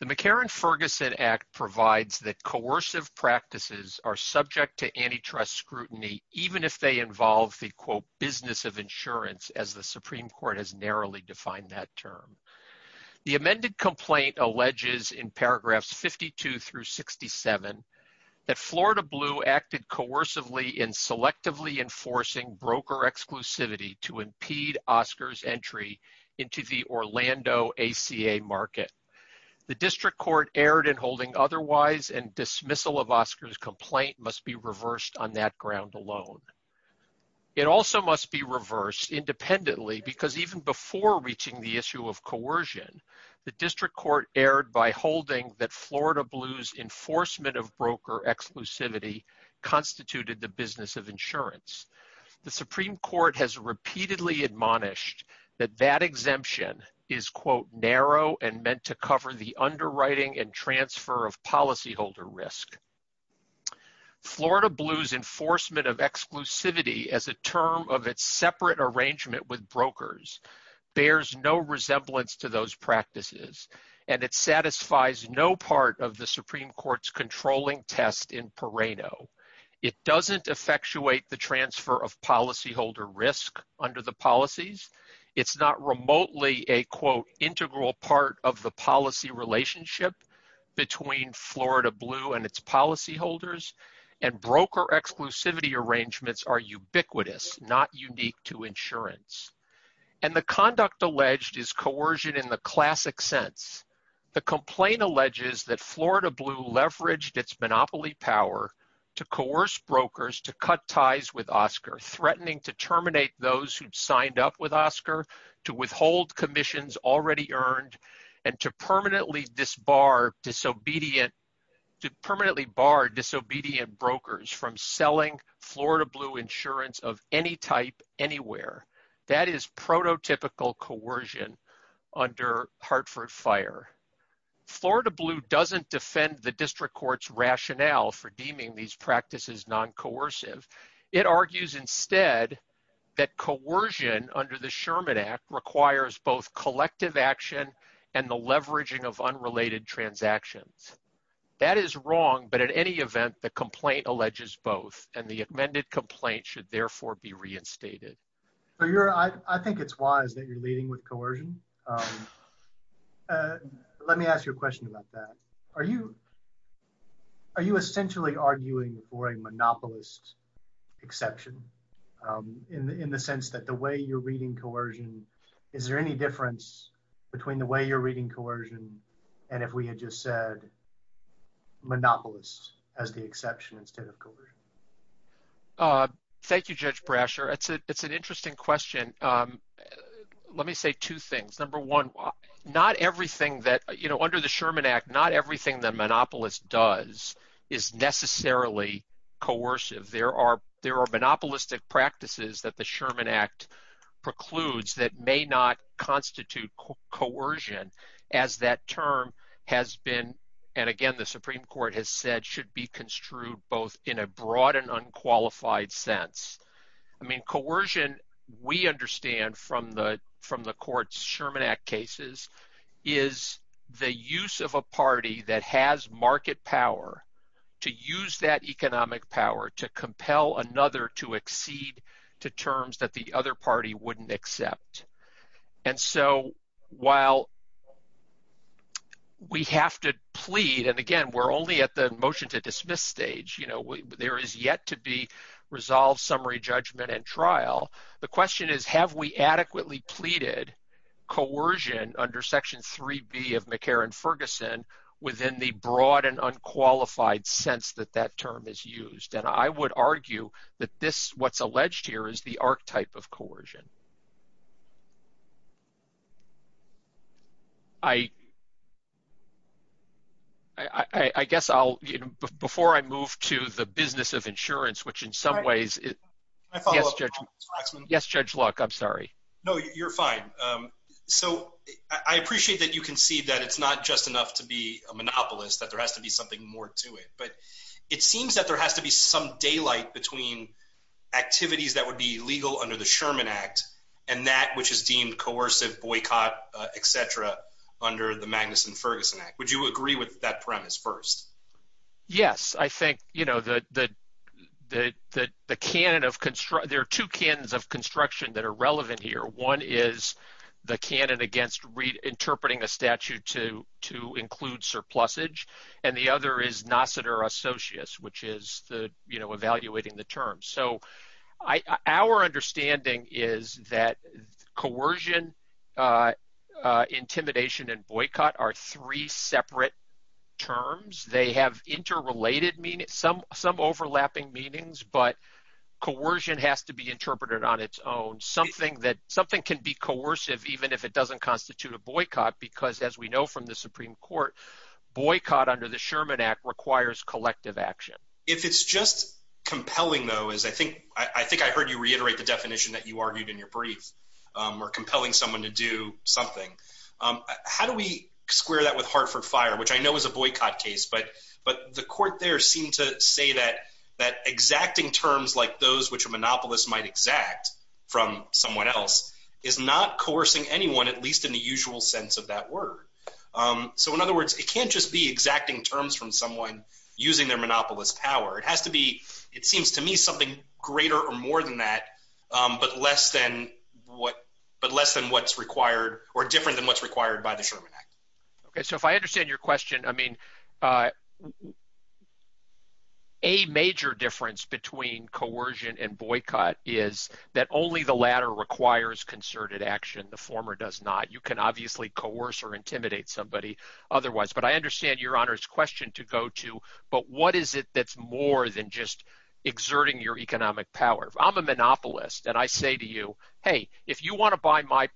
The McCarran-Ferguson Act provides that coercive practices are subject to antitrust scrutiny even if they involve the quote business of insurance as the Supreme Court has narrowly defined that term. The amended complaint alleges in paragraphs 52 through 67 that Florida Blue acted coercively in selectively enforcing broker exclusivity to impede Oscars entry into the Orlando ACA market. The district court erred in holding otherwise and dismissal of Oscars complaint must be reversed on that ground alone. It also must be reversed independently because even before reaching the issue of coercion, the district court erred by holding that Florida Blue's enforcement of broker exclusivity constituted the business of insurance. The Supreme Court has repeatedly admonished that that exemption is quote narrow and meant to cover the underwriting and transfer of policyholder risk. Florida Blue's enforcement of exclusivity as a term of its separate arrangement with brokers bears no resemblance to those practices, and it satisfies no part of the Supreme Court's controlling test in Perrano. It doesn't effectuate the transfer of policyholder risk under the policies. It's not remotely a quote integral part of the policy relationship between Florida Blue and its policyholders, and broker exclusivity arrangements are ubiquitous, not unique to insurance. And the conduct alleged is coercion in the classic sense. The complaint alleges that Florida Blue leveraged its monopoly power to coerce brokers to cut ties with Oscar, threatening to terminate those who'd signed up with Oscar, to withhold commissions already earned, and to permanently disbar disobedient – to permanently bar disobedient brokers from selling Florida Blue insurance of any type anywhere. That is prototypical coercion under Hartford Fire. Florida Blue doesn't defend the district court's rationale for deeming these practices non-coercive. It argues instead that coercion under the Sherman Act requires both collective action and the leveraging of unrelated transactions. That is wrong, but at any event, the complaint alleges both, and the amended complaint should therefore be reinstated. I think it's wise that you're leading with coercion. Let me ask you a question about that. Are you essentially arguing for a monopolist exception in the sense that the way you're reading coercion – is there any difference between the way you're reading coercion and if we had just said monopolist as the exception instead of coercion? Thank you, Judge Brasher. It's an interesting question. Let me say two things. Number one, under the Sherman Act, not everything the monopolist does is necessarily coercive. There are monopolistic practices that the Sherman Act precludes that may not constitute coercion, as that term has been – and again, the Supreme Court has said should be construed both in a broad and unqualified sense. Coercion, we understand from the court's Sherman Act cases, is the use of a party that has market power to use that economic power to compel another to accede to terms that the other party wouldn't accept. And so while we have to plead – and again, we're only at the motion-to-dismiss stage. There is yet to be resolved summary judgment and trial. The question is, have we adequately pleaded coercion under Section 3B of McCarran-Ferguson within the broad and unqualified sense that that term is used? And I would argue that this – what's alleged here is the archetype of coercion. I guess I'll – before I move to the business of insurance, which in some ways – Can I follow up on that, Mr. Waxman? Yes, Judge Luck. I'm sorry. No, you're fine. So I appreciate that you can see that it's not just enough to be a monopolist, that there has to be something more to it. But it seems that there has to be some daylight between activities that would be legal under the Sherman Act and that which is deemed coercive, boycott, etc. under the Magnuson-Ferguson Act. Would you agree with that premise first? Yes. I think the canon of – there are two canons of construction that are relevant here. One is the canon against reinterpreting a statute to include surplusage, and the other is nascitor associus, which is evaluating the terms. So our understanding is that coercion, intimidation, and boycott are three separate terms. They have interrelated – some overlapping meanings, but coercion has to be interpreted on its own. Something that – something can be coercive even if it doesn't constitute a boycott because, as we know from the Supreme Court, boycott under the Sherman Act requires collective action. If it's just compelling, though, as I think – I think I heard you reiterate the definition that you argued in your brief, or compelling someone to do something. How do we square that with Hartford Fire, which I know is a boycott case, but the court there seemed to say that exacting terms like those which a monopolist might exact from someone else is not coercing anyone, at least in the usual sense of that word. So in other words, it can't just be exacting terms from someone using their monopolist's power. It has to be – it seems to me something greater or more than that, but less than what – but less than what's required or different than what's required by the Sherman Act. Okay, so if I understand your question, I mean a major difference between coercion and boycott is that only the latter requires concerted action. The former does not. You can obviously coerce or intimidate somebody otherwise, but I understand Your Honor's question to go to, but what is it that's more than just exerting your economic power? I'm a monopolist, and I say to you, hey, if you want to buy my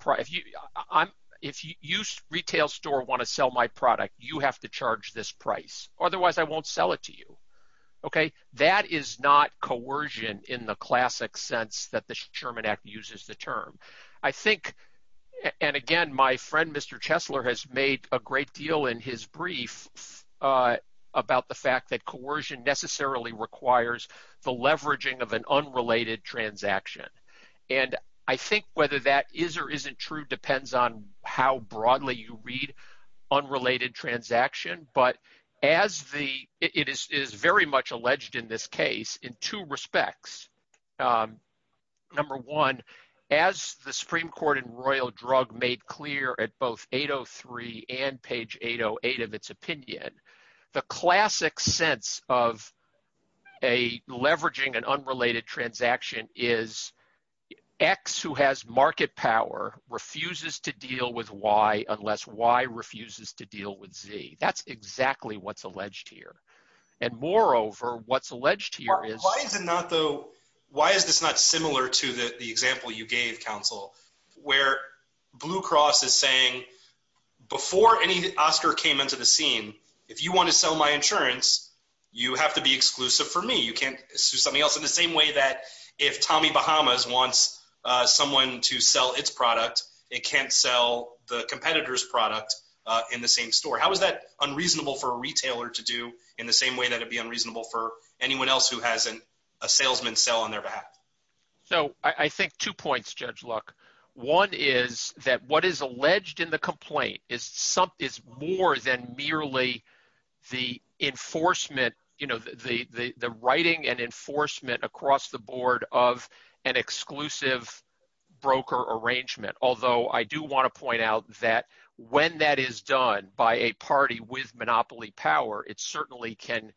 – if you retail store want to sell my product, you have to charge this price. Otherwise, I won't sell it to you. That is not coercion in the classic sense that the Sherman Act uses the term. I think – and again, my friend Mr. Chesler has made a great deal in his brief about the fact that coercion necessarily requires the leveraging of an unrelated transaction. And I think whether that is or isn't true depends on how broadly you read unrelated transaction, but as the – it is very much alleged in this case in two respects. Number one, as the Supreme Court in Royal Drug made clear at both 803 and page 808 of its opinion, the classic sense of a leveraging an unrelated transaction is X who has market power refuses to deal with Y unless Y refuses to deal with Z. That's exactly what's alleged here. And moreover, what's alleged here is – Why is it not though – why is this not similar to the example you gave, counsel, where Blue Cross is saying before any Oscar came into the scene, if you want to sell my insurance, you have to be exclusive for me. You can't do something else in the same way that if Tommy Bahamas wants someone to sell its product, it can't sell the competitor's product in the same store. How is that unreasonable for a retailer to do in the same way that it would be unreasonable for anyone else who has a salesman sell on their behalf? So I think two points, Judge Luck. One is that what is alleged in the complaint is more than merely the enforcement – the writing and enforcement across the board of an exclusive broker arrangement, although I do want to point out that when that is done by a party with monopoly power, it certainly can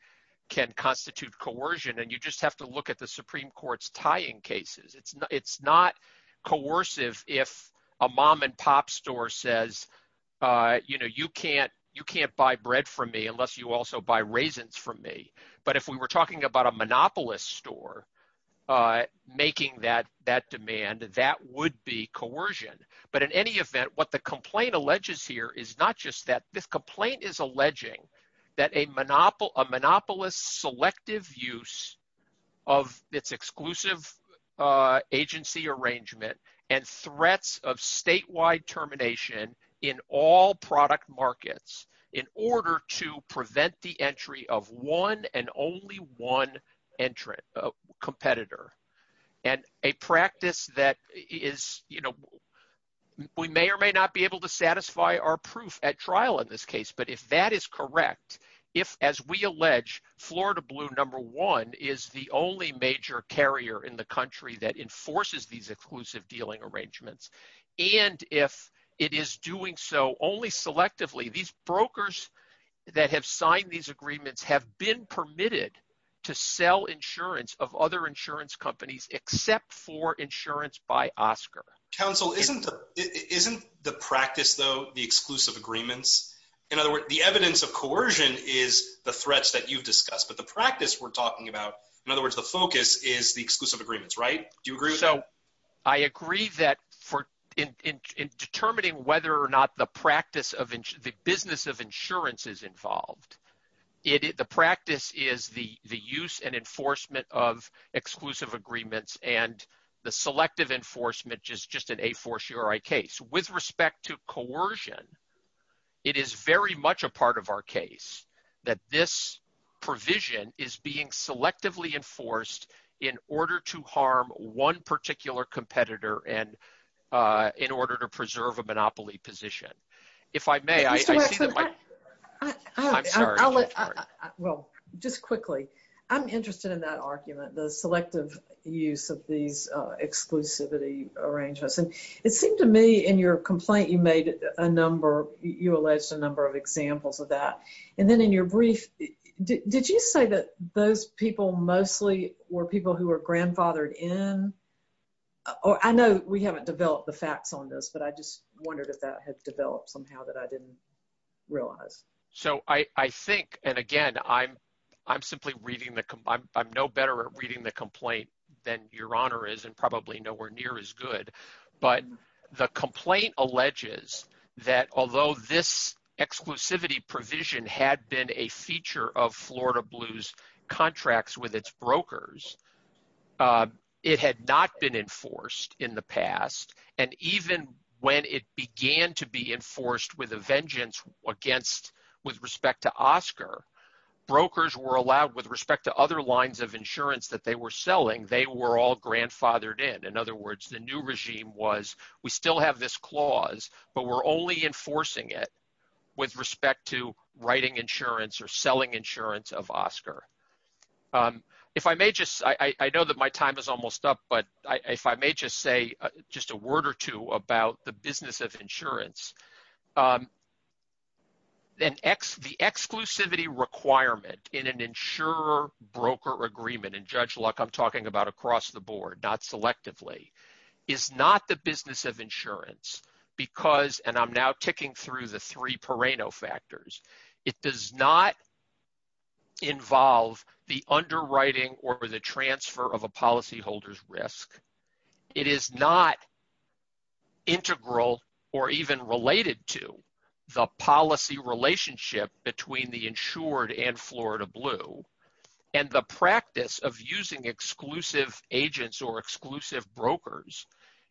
constitute coercion. And you just have to look at the Supreme Court's tying cases. It's not coercive if a mom-and-pop store says you can't buy bread from me unless you also buy raisins from me. But if we were talking about a monopolist store making that demand, that would be coercion. But in any event, what the complaint alleges here is not just that. This complaint is alleging that a monopolist's selective use of its exclusive agency arrangement and threats of statewide termination in all product markets in order to prevent the entry of one and only one competitor. And a practice that is – we may or may not be able to satisfy our proof at trial in this case, but if that is correct, if, as we allege, Florida Blue No. 1 is the only major carrier in the country that enforces these exclusive dealing arrangements…… if it is doing so only selectively, these brokers that have signed these agreements have been permitted to sell insurance of other insurance companies except for insurance by Oscar. Counsel, isn't the practice, though, the exclusive agreements? In other words, the evidence of coercion is the threats that you've discussed. But the practice we're talking about, in other words, the focus, is the exclusive agreements, right? Do you agree with that? So I agree that in determining whether or not the business of insurance is involved, the practice is the use and enforcement of exclusive agreements, and the selective enforcement is just an a for sure case. With respect to coercion, it is very much a part of our case that this provision is being selectively enforced in order to harm one particular competitor and in order to preserve a monopoly position. If I may, I see that my – I'm sorry. Well, just quickly, I'm interested in that argument, the selective use of these exclusivity arrangements. And it seemed to me in your complaint you made a number – you alleged a number of examples of that. And then in your brief, did you say that those people mostly were people who were grandfathered in? I know we haven't developed the facts on this, but I just wondered if that had developed somehow that I didn't realize. So I think – and again, I'm simply reading the – I'm no better at reading the complaint than Your Honor is and probably nowhere near as good. But the complaint alleges that although this exclusivity provision had been a feature of Florida Blue's contracts with its brokers, it had not been enforced in the past. And even when it began to be enforced with a vengeance against – with respect to Oscar, brokers were allowed – with respect to other lines of insurance that they were selling, they were all grandfathered in. In other words, the new regime was we still have this clause, but we're only enforcing it with respect to writing insurance or selling insurance of Oscar. If I may just – I know that my time is almost up, but if I may just say just a word or two about the business of insurance. The exclusivity requirement in an insurer-broker agreement – and Judge Luck, I'm talking about across the board, not selectively – is not the business of insurance because – and I'm now ticking through the three perennial factors. It does not involve the underwriting or the transfer of a policyholder's risk. It is not integral or even related to the policy relationship between the insured and Florida Blue. And the practice of using exclusive agents or exclusive brokers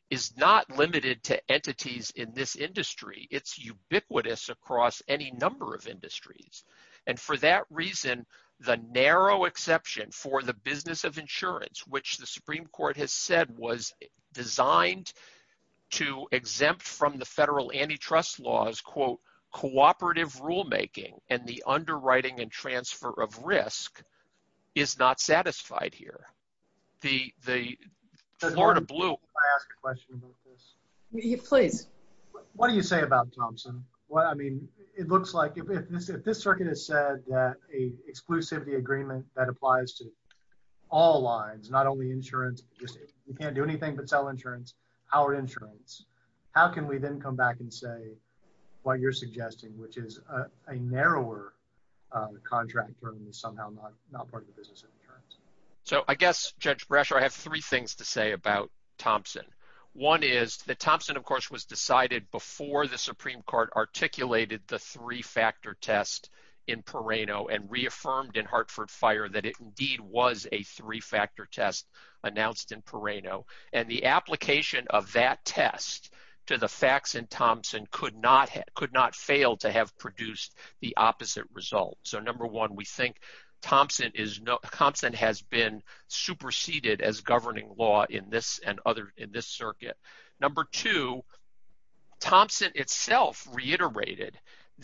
is not limited to entities in this industry. It's ubiquitous across any number of industries. And for that reason, the narrow exception for the business of insurance, which the Supreme Court has said was designed to exempt from the federal antitrust laws, quote, cooperative rulemaking and the underwriting and transfer of risk is not satisfied here. Florida Blue – Can I ask a question about this? Please. What do you say about Thompson? I mean, it looks like – if this circuit has said that an exclusivity agreement that applies to all lines, not only insurance, you can't do anything but sell insurance, Howard Insurance, how can we then come back and say what you're suggesting, which is a narrower contract term is somehow not part of the business of insurance? So I guess, Judge Brasher, I have three things to say about Thompson. One is that Thompson, of course, was decided before the Supreme Court articulated the three-factor test in Perrano and reaffirmed in Hartford Fire that it indeed was a three-factor test announced in Perrano. And the application of that test to the facts in Thompson could not fail to have produced the opposite result. So number one, we think Thompson has been superseded as governing law in this circuit. Number two, Thompson itself reiterated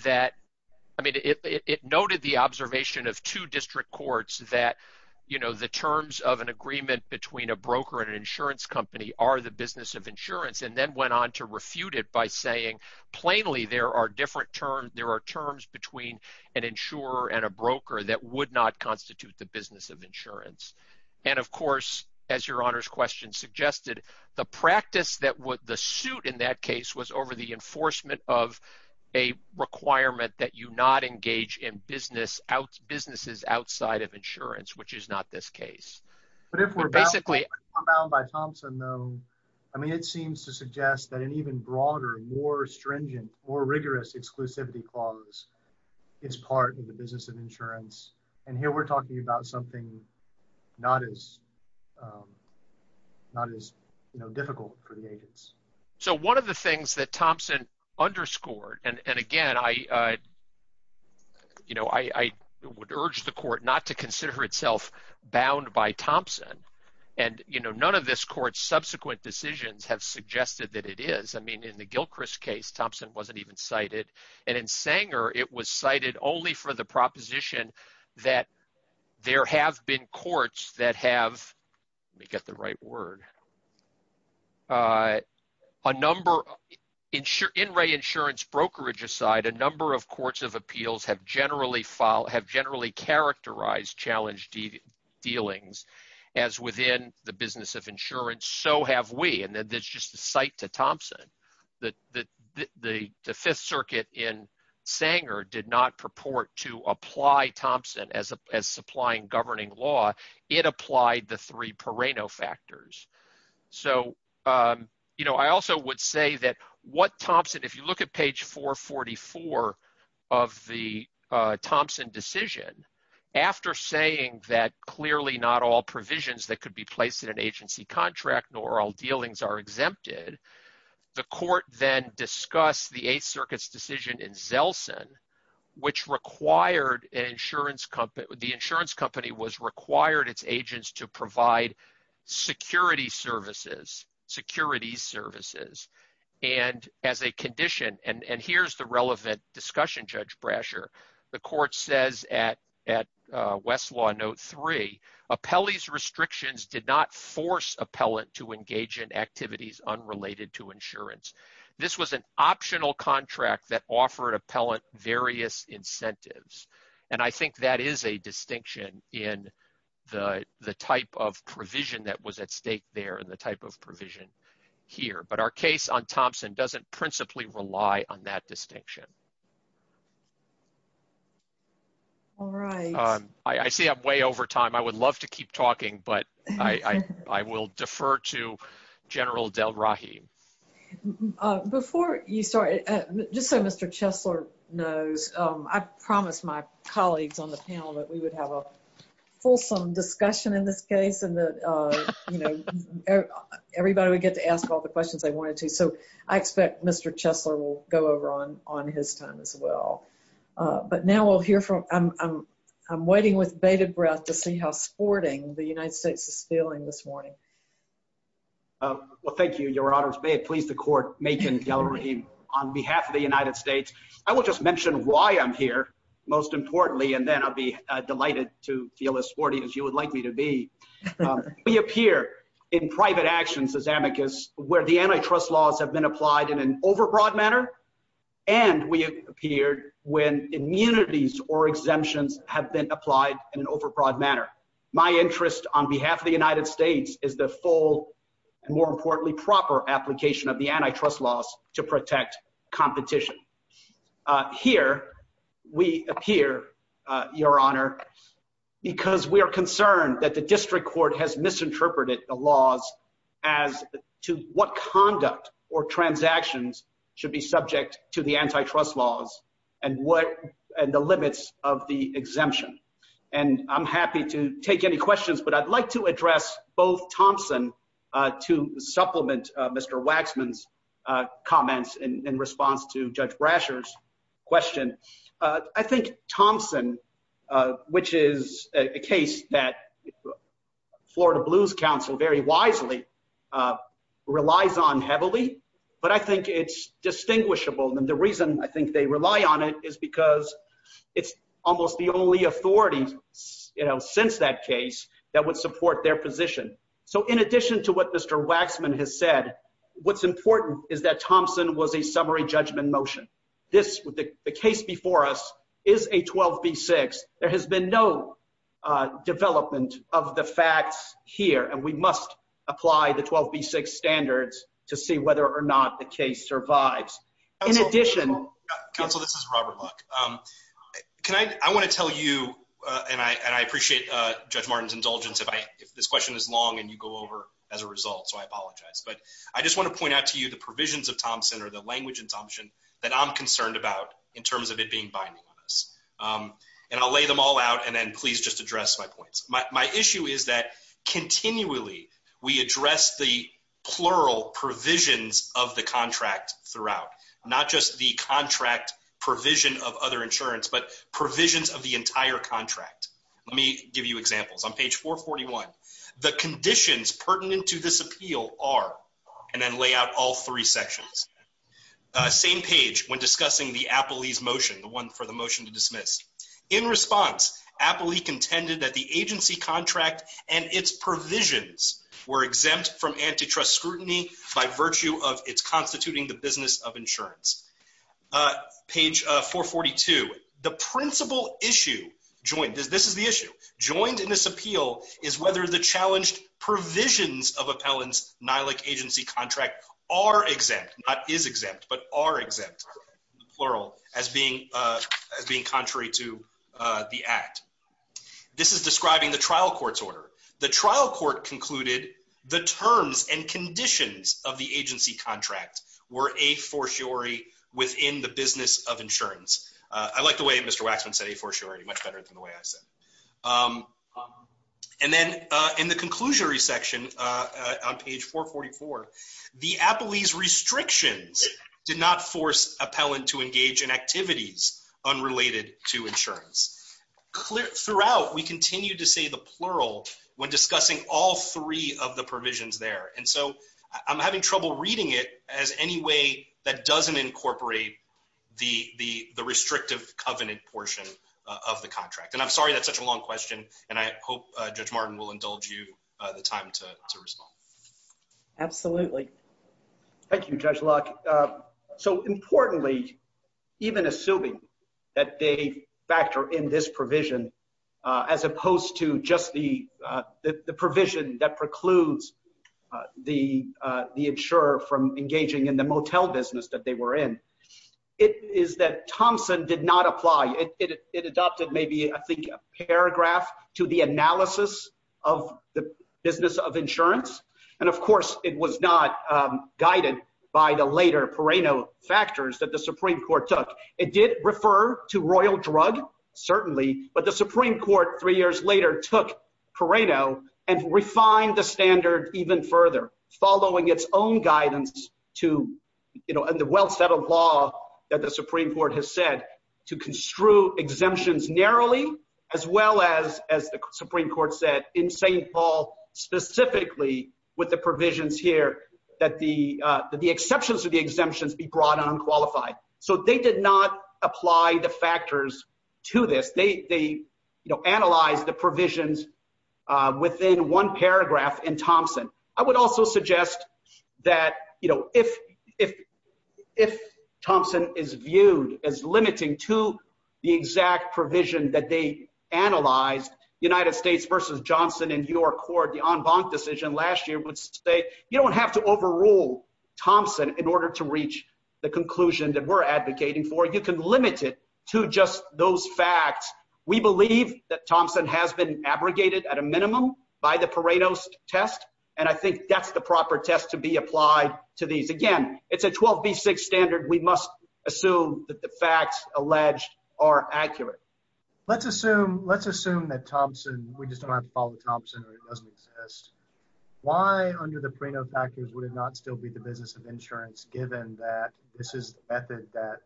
that – I mean, it noted the observation of two district courts that the terms of an agreement between a broker and an insurance company are the business of insurance and then went on to refute it by saying plainly there are terms between an insurer and a broker that would not constitute the business of insurance. And, of course, as Your Honor's question suggested, the practice that would – the suit in that case was over the enforcement of a requirement that you not engage in businesses outside of insurance, which is not this case. But if we're bound by Thompson, though, I mean it seems to suggest that an even broader, more stringent, more rigorous exclusivity clause is part of the business of insurance. And here we're talking about something not as difficult for the agents. So one of the things that Thompson underscored – and again, I would urge the court not to consider itself bound by Thompson. And none of this court's subsequent decisions have suggested that it is. I mean in the Gilchrist case, Thompson wasn't even cited. And in Sanger, it was cited only for the proposition that there have been courts that have – let me get the right word. A number – in re-insurance brokerage aside, a number of courts of appeals have generally characterized challenge dealings as within the business of insurance. So have we. And that's just a cite to Thompson. The Fifth Circuit in Sanger did not purport to apply Thompson as supplying governing law. It applied the three Perino factors. So I also would say that what Thompson – if you look at page 444 of the Thompson decision, after saying that clearly not all provisions that could be placed in an agency contract nor all dealings are exempted… …the court then discussed the Eighth Circuit's decision in Zelson, which required an insurance company – the insurance company was required its agents to provide security services, securities services. And as a condition – and here's the relevant discussion, Judge Brasher. The court says at Westlaw Note 3, Appellee's restrictions did not force appellant to engage in activities unrelated to insurance. This was an optional contract that offered appellant various incentives. And I think that is a distinction in the type of provision that was at stake there and the type of provision here. But our case on Thompson doesn't principally rely on that distinction. All right. I see I'm way over time. I would love to keep talking, but I will defer to General Delrahim. Before you start, just so Mr. Chesler knows, I promised my colleagues on the panel that we would have a fulsome discussion in this case and that everybody would get to ask all the questions they wanted to. So I expect Mr. Chesler will go over on his time as well. But now we'll hear from – I'm waiting with bated breath to see how sporting the United States is feeling this morning. Well, thank you, Your Honors. May it please the court, Makan Delrahim, on behalf of the United States. I will just mention why I'm here, most importantly, and then I'll be delighted to feel as sporty as you would like me to be. We appear in private actions as amicus where the antitrust laws have been applied in an overbroad manner, and we appeared when immunities or exemptions have been applied in an overbroad manner. My interest on behalf of the United States is the full and, more importantly, proper application of the antitrust laws to protect competition. Here we appear, Your Honor, because we are concerned that the district court has misinterpreted the laws as to what conduct or transactions should be subject to the antitrust laws and the limits of the exemption. And I'm happy to take any questions, but I'd like to address both Thompson to supplement Mr. Waxman's comments in response to Judge Brasher's question. I think Thompson, which is a case that Florida Blues Council very wisely relies on heavily, but I think it's distinguishable. And the reason I think they rely on it is because it's almost the only authority since that case that would support their position. So in addition to what Mr. Waxman has said, what's important is that Thompson was a summary judgment motion. The case before us is a 12B6. There has been no development of the facts here, and we must apply the 12B6 standards to see whether or not the case survives. Counsel, this is Robert Buck. I want to tell you, and I appreciate Judge Martin's indulgence if this question is long and you go over as a result, so I apologize. But I just want to point out to you the provisions of Thompson or the language in Thompson that I'm concerned about in terms of it being binding on us. And I'll lay them all out, and then please just address my points. My issue is that continually we address the plural provisions of the contract throughout, not just the contract provision of other insurance, but provisions of the entire contract. Let me give you examples. On page 441, the conditions pertinent to this appeal are, and then lay out all three sections. Same page when discussing the Apley's motion, the one for the motion to dismiss. In response, Apley contended that the agency contract and its provisions were exempt from antitrust scrutiny by virtue of its constituting the business of insurance. Page 442, the principal issue, this is the issue, joined in this appeal is whether the challenged provisions of Appellant's NILAC agency contract are exempt, not is exempt, but are exempt, plural, as being contrary to the act. This is describing the trial court's order. The trial court concluded the terms and conditions of the agency contract were a fortiori within the business of insurance. I like the way Mr. Waxman said a fortiori much better than the way I said. And then in the conclusionary section on page 444, the Apley's restrictions did not force Appellant to engage in activities unrelated to insurance. Throughout, we continue to say the plural when discussing all three of the provisions there. And so I'm having trouble reading it as any way that doesn't incorporate the restrictive covenant portion of the contract. And I'm sorry that's such a long question, and I hope Judge Martin will indulge you the time to respond. Absolutely. Thank you, Judge Locke. So importantly, even assuming that they factor in this provision, as opposed to just the provision that precludes the insurer from engaging in the motel business that they were in, it is that Thompson did not apply. It adopted maybe, I think, a paragraph to the analysis of the business of insurance. And, of course, it was not guided by the later Pereno factors that the Supreme Court took. It did refer to royal drug, certainly, but the Supreme Court three years later took Pereno and refined the standard even further, following its own guidance to, you know, and the well-settled law that the Supreme Court has said to construe exemptions narrowly, as well as the Supreme Court said in St. Paul specifically with the provisions here that the exceptions to the exemptions be brought on qualified. So they did not apply the factors to this. They, you know, analyzed the provisions within one paragraph in Thompson. I would also suggest that, you know, if Thompson is viewed as limiting to the exact provision that they analyzed, United States versus Johnson in your court, the en banc decision last year would say you don't have to overrule Thompson in order to reach the conclusion that we're advocating for. You can limit it to just those facts. We believe that Thompson has been abrogated at a minimum by the Pereno test, and I think that's the proper test to be applied to these. Again, it's a 12B6 standard. We must assume that the facts alleged are accurate. Let's assume, let's assume that Thompson, we just don't have to follow Thompson or it doesn't exist. Why, under the Pereno factors, would it not still be the business of insurance, given that this is the method that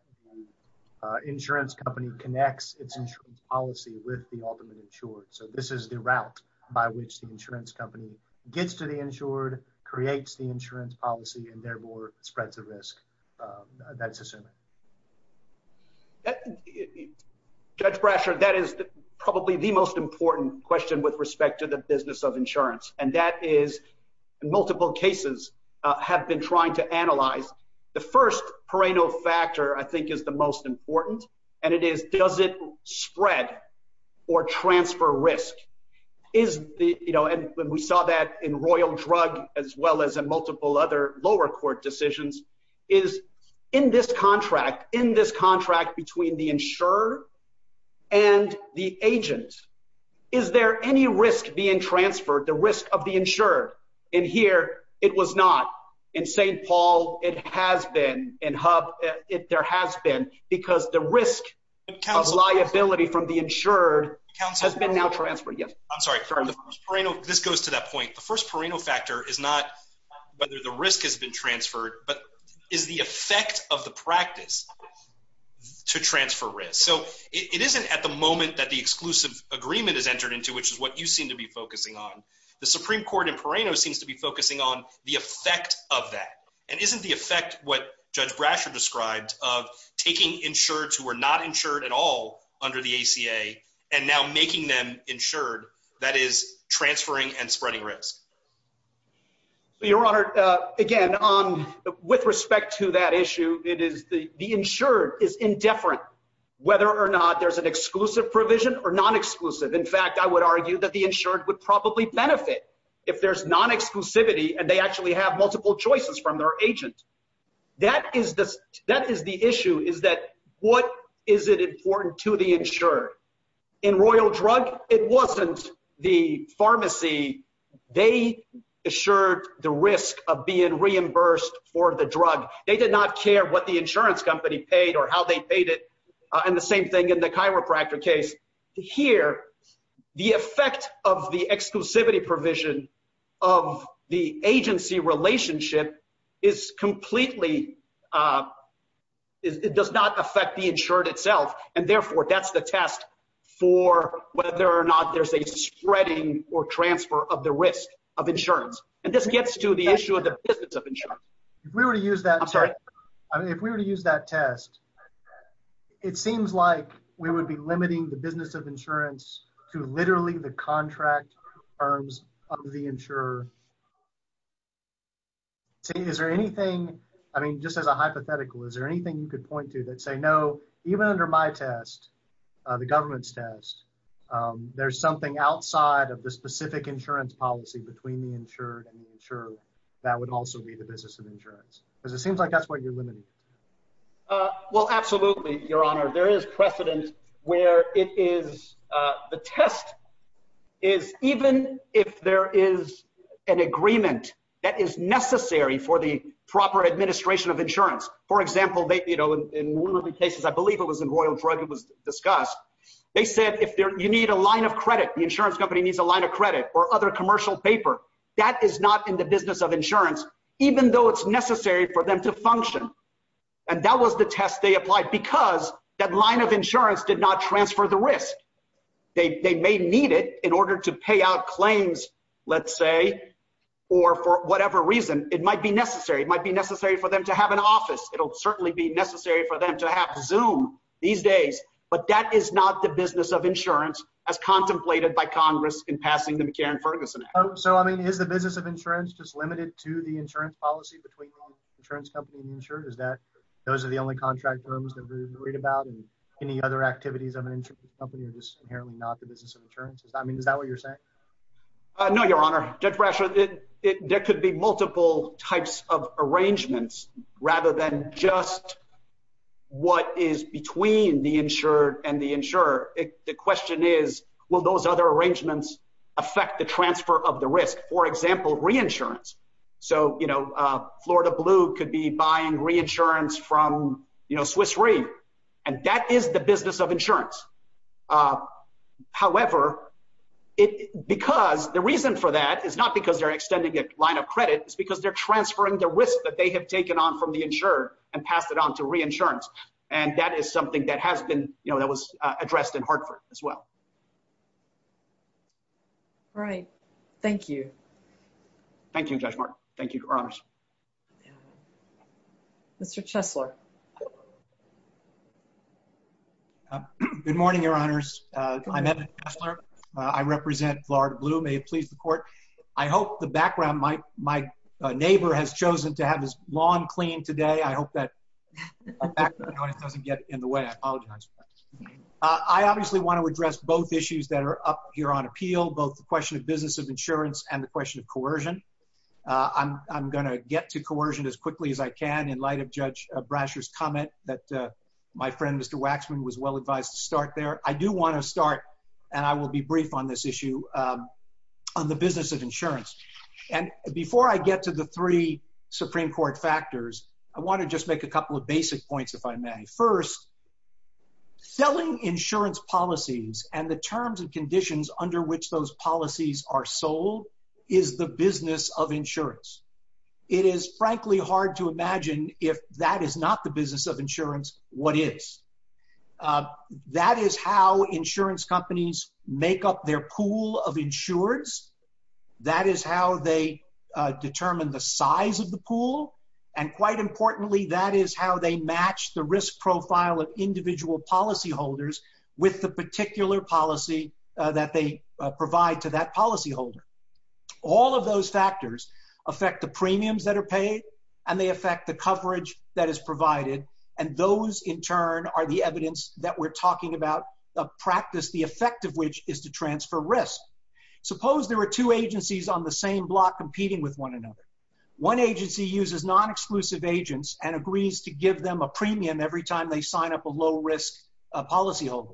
the insurance company connects its insurance policy with the ultimate insured? So this is the route by which the insurance company gets to the insured, creates the insurance policy, and therefore spreads the risk. That's assuming. Judge Brasher, that is probably the most important question with respect to the business of insurance, and that is multiple cases have been trying to analyze. The first Pereno factor, I think, is the most important, and it is does it spread or transfer risk? And we saw that in Royal Drug as well as in multiple other lower court decisions, is in this contract, in this contract between the insured and the agent, is there any risk being transferred, the risk of the insured? In here, it was not. In St. Paul, it has been. In Hub, there has been, because the risk of liability from the insured has been now transferred. I'm sorry. This goes to that point. The first Pereno factor is not whether the risk has been transferred, but is the effect of the practice to transfer risk. So it isn't at the moment that the exclusive agreement is entered into, which is what you seem to be focusing on. The Supreme Court in Pereno seems to be focusing on the effect of that. And isn't the effect what Judge Brasher described of taking insureds who are not insured at all under the ACA and now making them insured, that is transferring and spreading risk? Your Honor, again, with respect to that issue, it is the insured is indifferent whether or not there's an exclusive provision or non-exclusive. In fact, I would argue that the insured would probably benefit if there's non-exclusivity and they actually have multiple choices from their agent. That is the issue, is that what is it important to the insured? In Royal Drug, it wasn't the pharmacy. They assured the risk of being reimbursed for the drug. They did not care what the insurance company paid or how they paid it, and the same thing in the chiropractor case. Here, the effect of the exclusivity provision of the agency relationship is completely – it does not affect the insured itself. And therefore, that's the test for whether or not there's a spreading or transfer of the risk of insurance. And this gets to the issue of the business of insurance. If we were to use that test, it seems like we would be limiting the business of insurance to literally the contract terms of the insurer. Is there anything – I mean, just as a hypothetical, is there anything you could point to that say, no, even under my test, the government's test, there's something outside of the specific insurance policy between the insured and the insured that would also be the business of insurance? Because it seems like that's what you're limiting. Well, absolutely, Your Honor. There is precedent where it is – the test is even if there is an agreement that is necessary for the proper administration of insurance. For example, in one of the cases, I believe it was in Royal Drug, it was discussed, they said if you need a line of credit, the insurance company needs a line of credit or other commercial paper, that is not in the business of insurance, even though it's necessary for them to function. And that was the test they applied because that line of insurance did not transfer the risk. They may need it in order to pay out claims, let's say, or for whatever reason. It might be necessary. It might be necessary for them to have an office. It'll certainly be necessary for them to have Zoom these days. But that is not the business of insurance as contemplated by Congress in passing the McCarran-Ferguson Act. So, I mean, is the business of insurance just limited to the insurance policy between the insurance company and the insurer? Is that – those are the only contract firms that we're worried about? And any other activities of an insurance company are just inherently not the business of insurance? I mean, is that what you're saying? No, Your Honor. Judge Brasher, there could be multiple types of arrangements rather than just what is between the insured and the insurer. The question is will those other arrangements affect the transfer of the risk? For example, reinsurance. So, you know, Florida Blue could be buying reinsurance from Swiss Re. And that is the business of insurance. However, because the reason for that is not because they're extending a line of credit. It's because they're transferring the risk that they have taken on from the insured and passed it on to reinsurance. And that is something that has been, you know, that was addressed in Hartford as well. All right. Thank you. Thank you, Judge Martin. Thank you, Your Honors. Mr. Chesler. Good morning, Your Honors. I'm Evan Chesler. I represent Florida Blue. May it please the Court. I hope the background – my neighbor has chosen to have his lawn cleaned today. I hope that doesn't get in the way. I apologize. I obviously want to address both issues that are up here on appeal, both the question of business of insurance and the question of coercion. I'm going to get to coercion as quickly as I can in light of Judge Brasher's comment that my friend, Mr. Waxman, was well advised to start there. I do want to start, and I will be brief on this issue, on the business of insurance. And before I get to the three Supreme Court factors, I want to just make a couple of basic points, if I may. First, selling insurance policies and the terms and conditions under which those policies are sold is the business of insurance. It is, frankly, hard to imagine if that is not the business of insurance, what is. That is how insurance companies make up their pool of insureds. That is how they determine the size of the pool. And quite importantly, that is how they match the risk profile of individual policyholders with the particular policy that they provide to that policyholder. All of those factors affect the premiums that are paid, and they affect the coverage that is provided. And those, in turn, are the evidence that we're talking about a practice, the effect of which is to transfer risk. Suppose there are two agencies on the same block competing with one another. One agency uses non-exclusive agents and agrees to give them a premium every time they sign up a low-risk policyholder.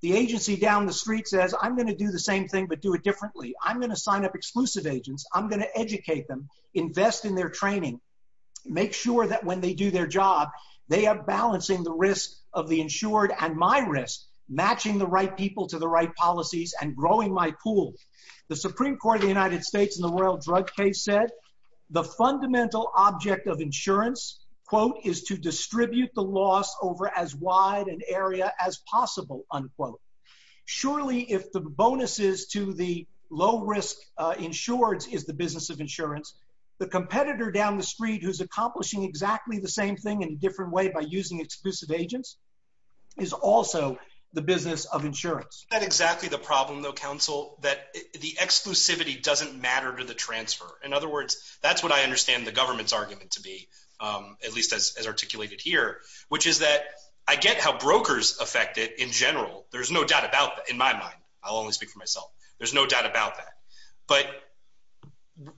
The agency down the street says, I'm going to do the same thing, but do it differently. I'm going to sign up exclusive agents. I'm going to educate them, invest in their training, make sure that when they do their job, they are balancing the risk of the insured and my risk, matching the right people to the right policies and growing my pool. The Supreme Court of the United States in the Royal Drug Case said the fundamental object of insurance, quote, is to distribute the loss over as wide an area as possible, unquote. Surely, if the bonuses to the low-risk insureds is the business of insurance, the competitor down the street who's accomplishing exactly the same thing in a different way by using exclusive agents is also the business of insurance. That's exactly the problem, though, counsel, that the exclusivity doesn't matter to the transfer. In other words, that's what I understand the government's argument to be, at least as articulated here, which is that I get how brokers affect it in general. There's no doubt about that in my mind. I'll only speak for myself. There's no doubt about that. But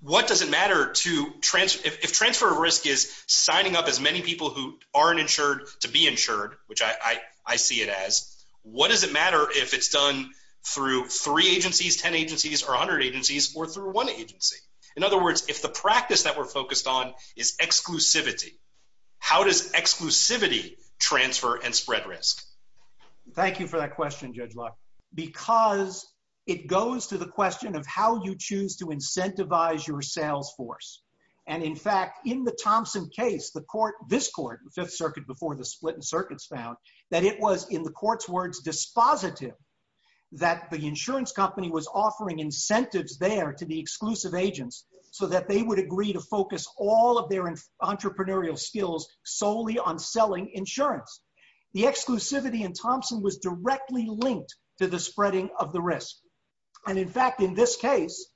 what does it matter if transfer of risk is signing up as many people who aren't insured to be insured, which I see it as, what does it matter if it's done through three agencies, 10 agencies, or 100 agencies, or through one agency? In other words, if the practice that we're focused on is exclusivity, how does exclusivity transfer and spread risk? Thank you for that question, Judge Locke, because it goes to the question of how you choose to incentivize your sales force. In fact, in the Thompson case, this court, the Fifth Circuit before the split in circuits found, that it was, in the court's words, dispositive that the insurance company was offering incentives there to the exclusive agents so that they would agree to focus all of their entrepreneurial skills solely on selling insurance. The exclusivity in Thompson was directly linked to the spreading of the risk. And in fact, in this case,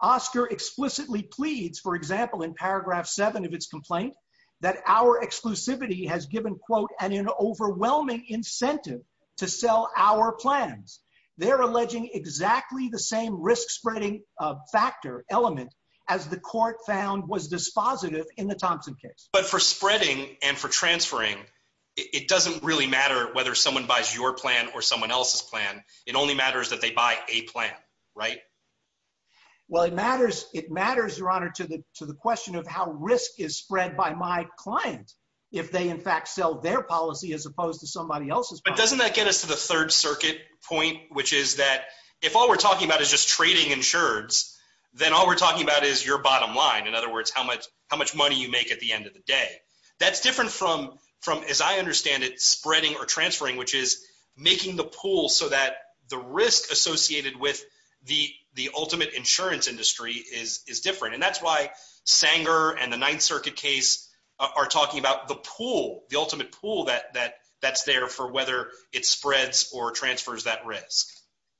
Oscar explicitly pleads, for example, in paragraph seven of its complaint, that our exclusivity has given, quote, an overwhelming incentive to sell our plans. They're alleging exactly the same risk spreading factor element as the court found was dispositive in the Thompson case. But for spreading and for transferring, it doesn't really matter whether someone buys your plan or someone else's plan. It only matters that they buy a plan, right? Well, it matters, Your Honor, to the question of how risk is spread by my client if they, in fact, sell their policy as opposed to somebody else's policy. But doesn't that get us to the Third Circuit point, which is that if all we're talking about is just trading insurance, then all we're talking about is your bottom line, in other words, how much money you make at the end of the day. That's different from, as I understand it, spreading or transferring, which is making the pool so that the risk associated with the ultimate insurance industry is different. And that's why Sanger and the Ninth Circuit case are talking about the pool, the ultimate pool that's there for whether it spreads or transfers that risk.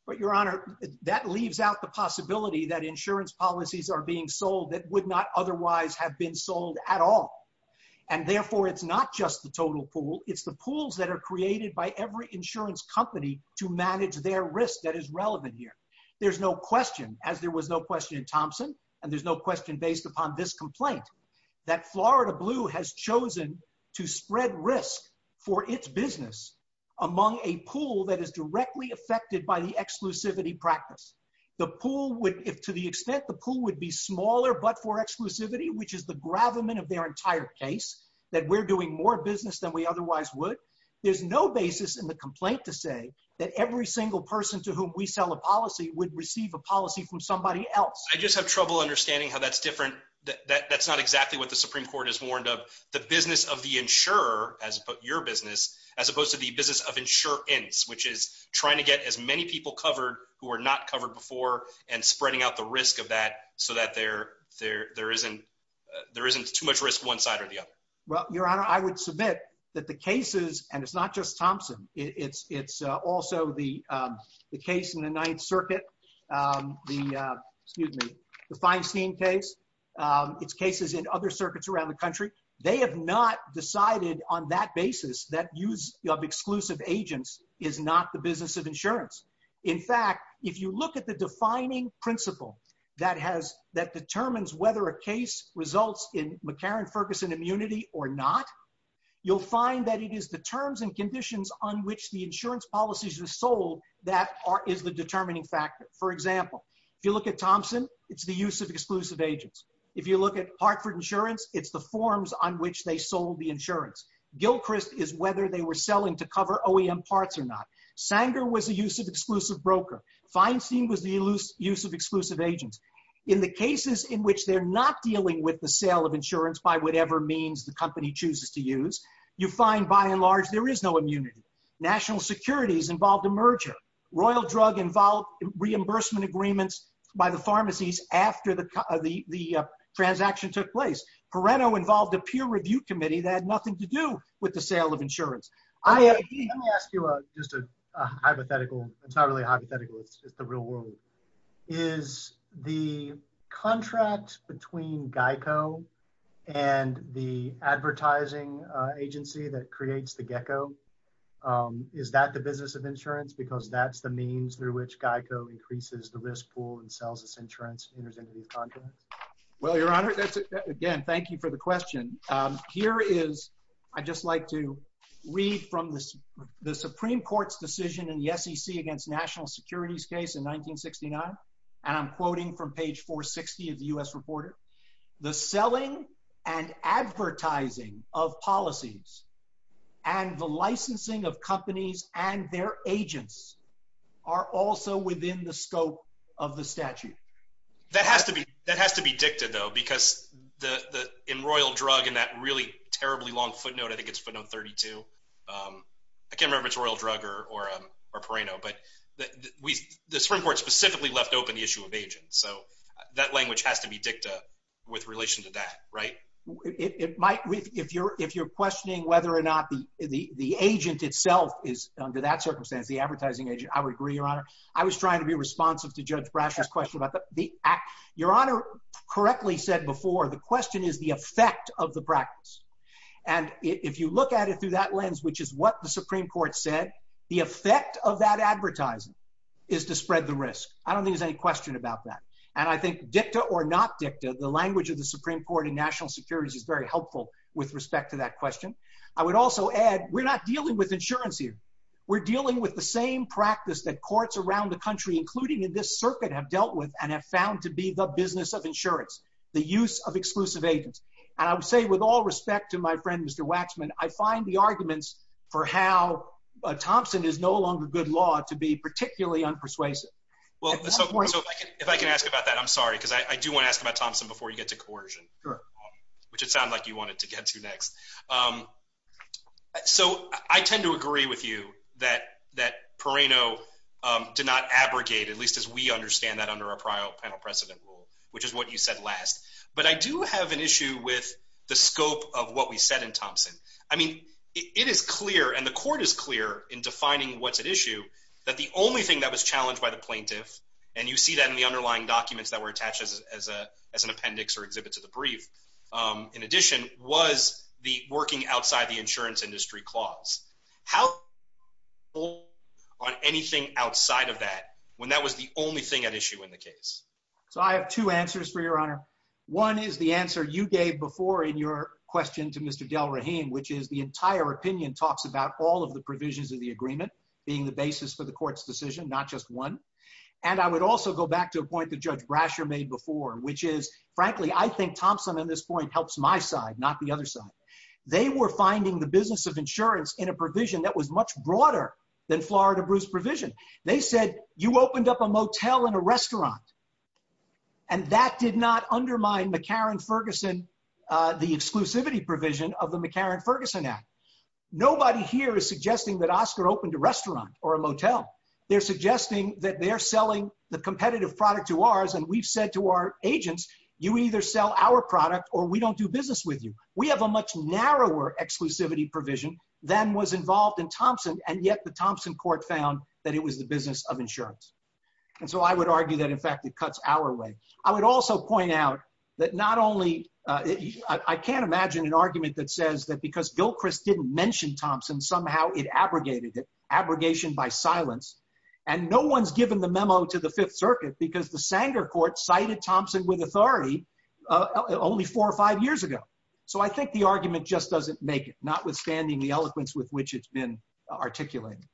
But, Your Honor, that leaves out the possibility that insurance policies are being sold that would not otherwise have been sold at all. And therefore, it's not just the total pool. It's the pools that are created by every insurance company to manage their risk that is relevant here. There's no question, as there was no question in Thompson, and there's no question based upon this complaint, that Florida Blue has chosen to spread risk for its business among a pool that is directly affected by the exclusivity practice. To the extent the pool would be smaller but for exclusivity, which is the gravamen of their entire case, that we're doing more business than we otherwise would, there's no basis in the complaint to say that every single person to whom we sell a policy would receive a policy from somebody else. I just have trouble understanding how that's different. That's not exactly what the Supreme Court has warned of. The business of the insurer, as your business, as opposed to the business of insurance, which is trying to get as many people covered who are not covered before and spreading out the risk of that so that there isn't too much risk one side or the other. Your Honor, I would submit that the cases, and it's not just Thompson. It's also the case in the Ninth Circuit, the Feinstein case. It's cases in other circuits around the country. They have not decided on that basis that use of exclusive agents is not the business of insurance. In fact, if you look at the defining principle that determines whether a case results in McCarran-Ferguson immunity or not, you'll find that it is the terms and conditions on which the insurance policies are sold that is the determining factor. For example, if you look at Thompson, it's the use of exclusive agents. If you look at Hartford Insurance, it's the forms on which they sold the insurance. Gilchrist is whether they were selling to cover OEM parts or not. Sanger was the use of exclusive broker. Feinstein was the use of exclusive agents. In the cases in which they're not dealing with the sale of insurance by whatever means the company chooses to use, you find, by and large, there is no immunity. National Securities involved a merger. Royal Drug involved reimbursement agreements by the pharmacies after the transaction took place. Parenno involved a peer review committee that had nothing to do with the sale of insurance. Let me ask you just a hypothetical. It's not really hypothetical. It's the real world. Is the contract between GEICO and the advertising agency that creates the GECCO, is that the business of insurance because that's the means through which GEICO increases the risk pool and sells its insurance? Well, Your Honor, again, thank you for the question. I'd just like to read from the Supreme Court's decision in the SEC against national securities case in 1969, and I'm quoting from page 460 of the U.S. Reporter. The selling and advertising of policies and the licensing of companies and their agents are also within the scope of the statute. That has to be dicta, though, because in Royal Drug, in that really terribly long footnote, I think it's footnote 32. I can't remember if it's Royal Drug or Parenno, but the Supreme Court specifically left open the issue of agents. So that language has to be dicta with relation to that, right? If you're questioning whether or not the agent itself is, under that circumstance, the advertising agent, I would agree, Your Honor. I was trying to be responsive to Judge Brash's question about the act. Your Honor correctly said before, the question is the effect of the practice. And if you look at it through that lens, which is what the Supreme Court said, the effect of that advertising is to spread the risk. I don't think there's any question about that. And I think dicta or not dicta, the language of the Supreme Court in national securities is very helpful with respect to that question. I would also add, we're not dealing with insurance here. We're dealing with the same practice that courts around the country, including in this circuit, have dealt with and have found to be the business of insurance, the use of exclusive agents. And I would say with all respect to my friend, Mr. Waxman, I find the arguments for how Thompson is no longer good law to be particularly unpersuasive. If I can ask about that, I'm sorry, because I do want to ask about Thompson before you get to coercion, which it sounded like you wanted to get to next. So I tend to agree with you that Perrino did not abrogate, at least as we understand that under our panel precedent rule, which is what you said last. But I do have an issue with the scope of what we said in Thompson. I mean, it is clear, and the court is clear in defining what's at issue, that the only thing that was challenged by the plaintiff, and you see that in the underlying documents that were attached as an appendix or exhibit to the brief, in addition, was the working outside the insurance industry clause. How do you hold on anything outside of that when that was the only thing at issue in the case? So I have two answers for your honor. One is the answer you gave before in your question to Mr. Delrahim, which is the entire opinion talks about all of the provisions of the agreement being the basis for the court's decision, not just one. And I would also go back to a point that Judge Brasher made before, which is, frankly, I think Thompson in this point helps my side, not the other side. They were finding the business of insurance in a provision that was much broader than Florida Bruce provision. They said, you opened up a motel and a restaurant, and that did not undermine McCarran-Ferguson, the exclusivity provision of the McCarran-Ferguson Act. Nobody here is suggesting that Oscar opened a restaurant or a motel. They're suggesting that they're selling the competitive product to ours, and we've said to our agents, you either sell our product or we don't do business with you. We have a much narrower exclusivity provision than was involved in Thompson, and yet the Thompson court found that it was the business of insurance. And so I would argue that, in fact, it cuts our way. I would also point out that not only, I can't imagine an argument that says that because Bill Criss didn't mention Thompson, somehow it abrogated it, abrogation by silence. And no one's given the memo to the Fifth Circuit because the Sanger court cited Thompson with authority only four or five years ago. So I think the argument just doesn't make it, notwithstanding the eloquence with which it's been articulated.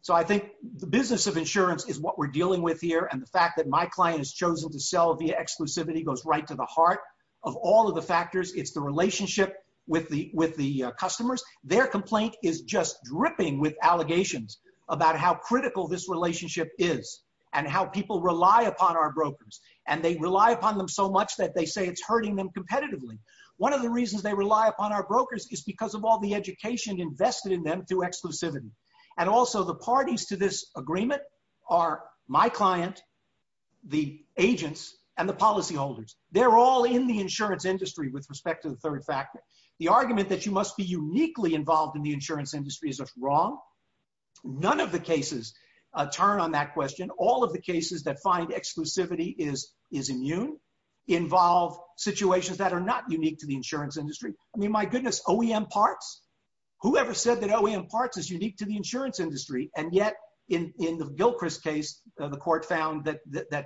So I think the business of insurance is what we're dealing with here, and the fact that my client has chosen to sell via exclusivity goes right to the heart of all of the factors. It's the relationship with the customers. Their complaint is just dripping with allegations about how critical this relationship is and how people rely upon our brokers. And they rely upon them so much that they say it's hurting them competitively. One of the reasons they rely upon our brokers is because of all the education invested in them through exclusivity. And also the parties to this agreement are my client, the agents, and the policyholders. They're all in the insurance industry with respect to the third factor. The argument that you must be uniquely involved in the insurance industry is wrong. None of the cases turn on that question. All of the cases that find exclusivity is immune involve situations that are not unique to the insurance industry. I mean, my goodness, OEM parts? Whoever said that OEM parts is unique to the insurance industry? And yet in the Gilchrist case, the court found that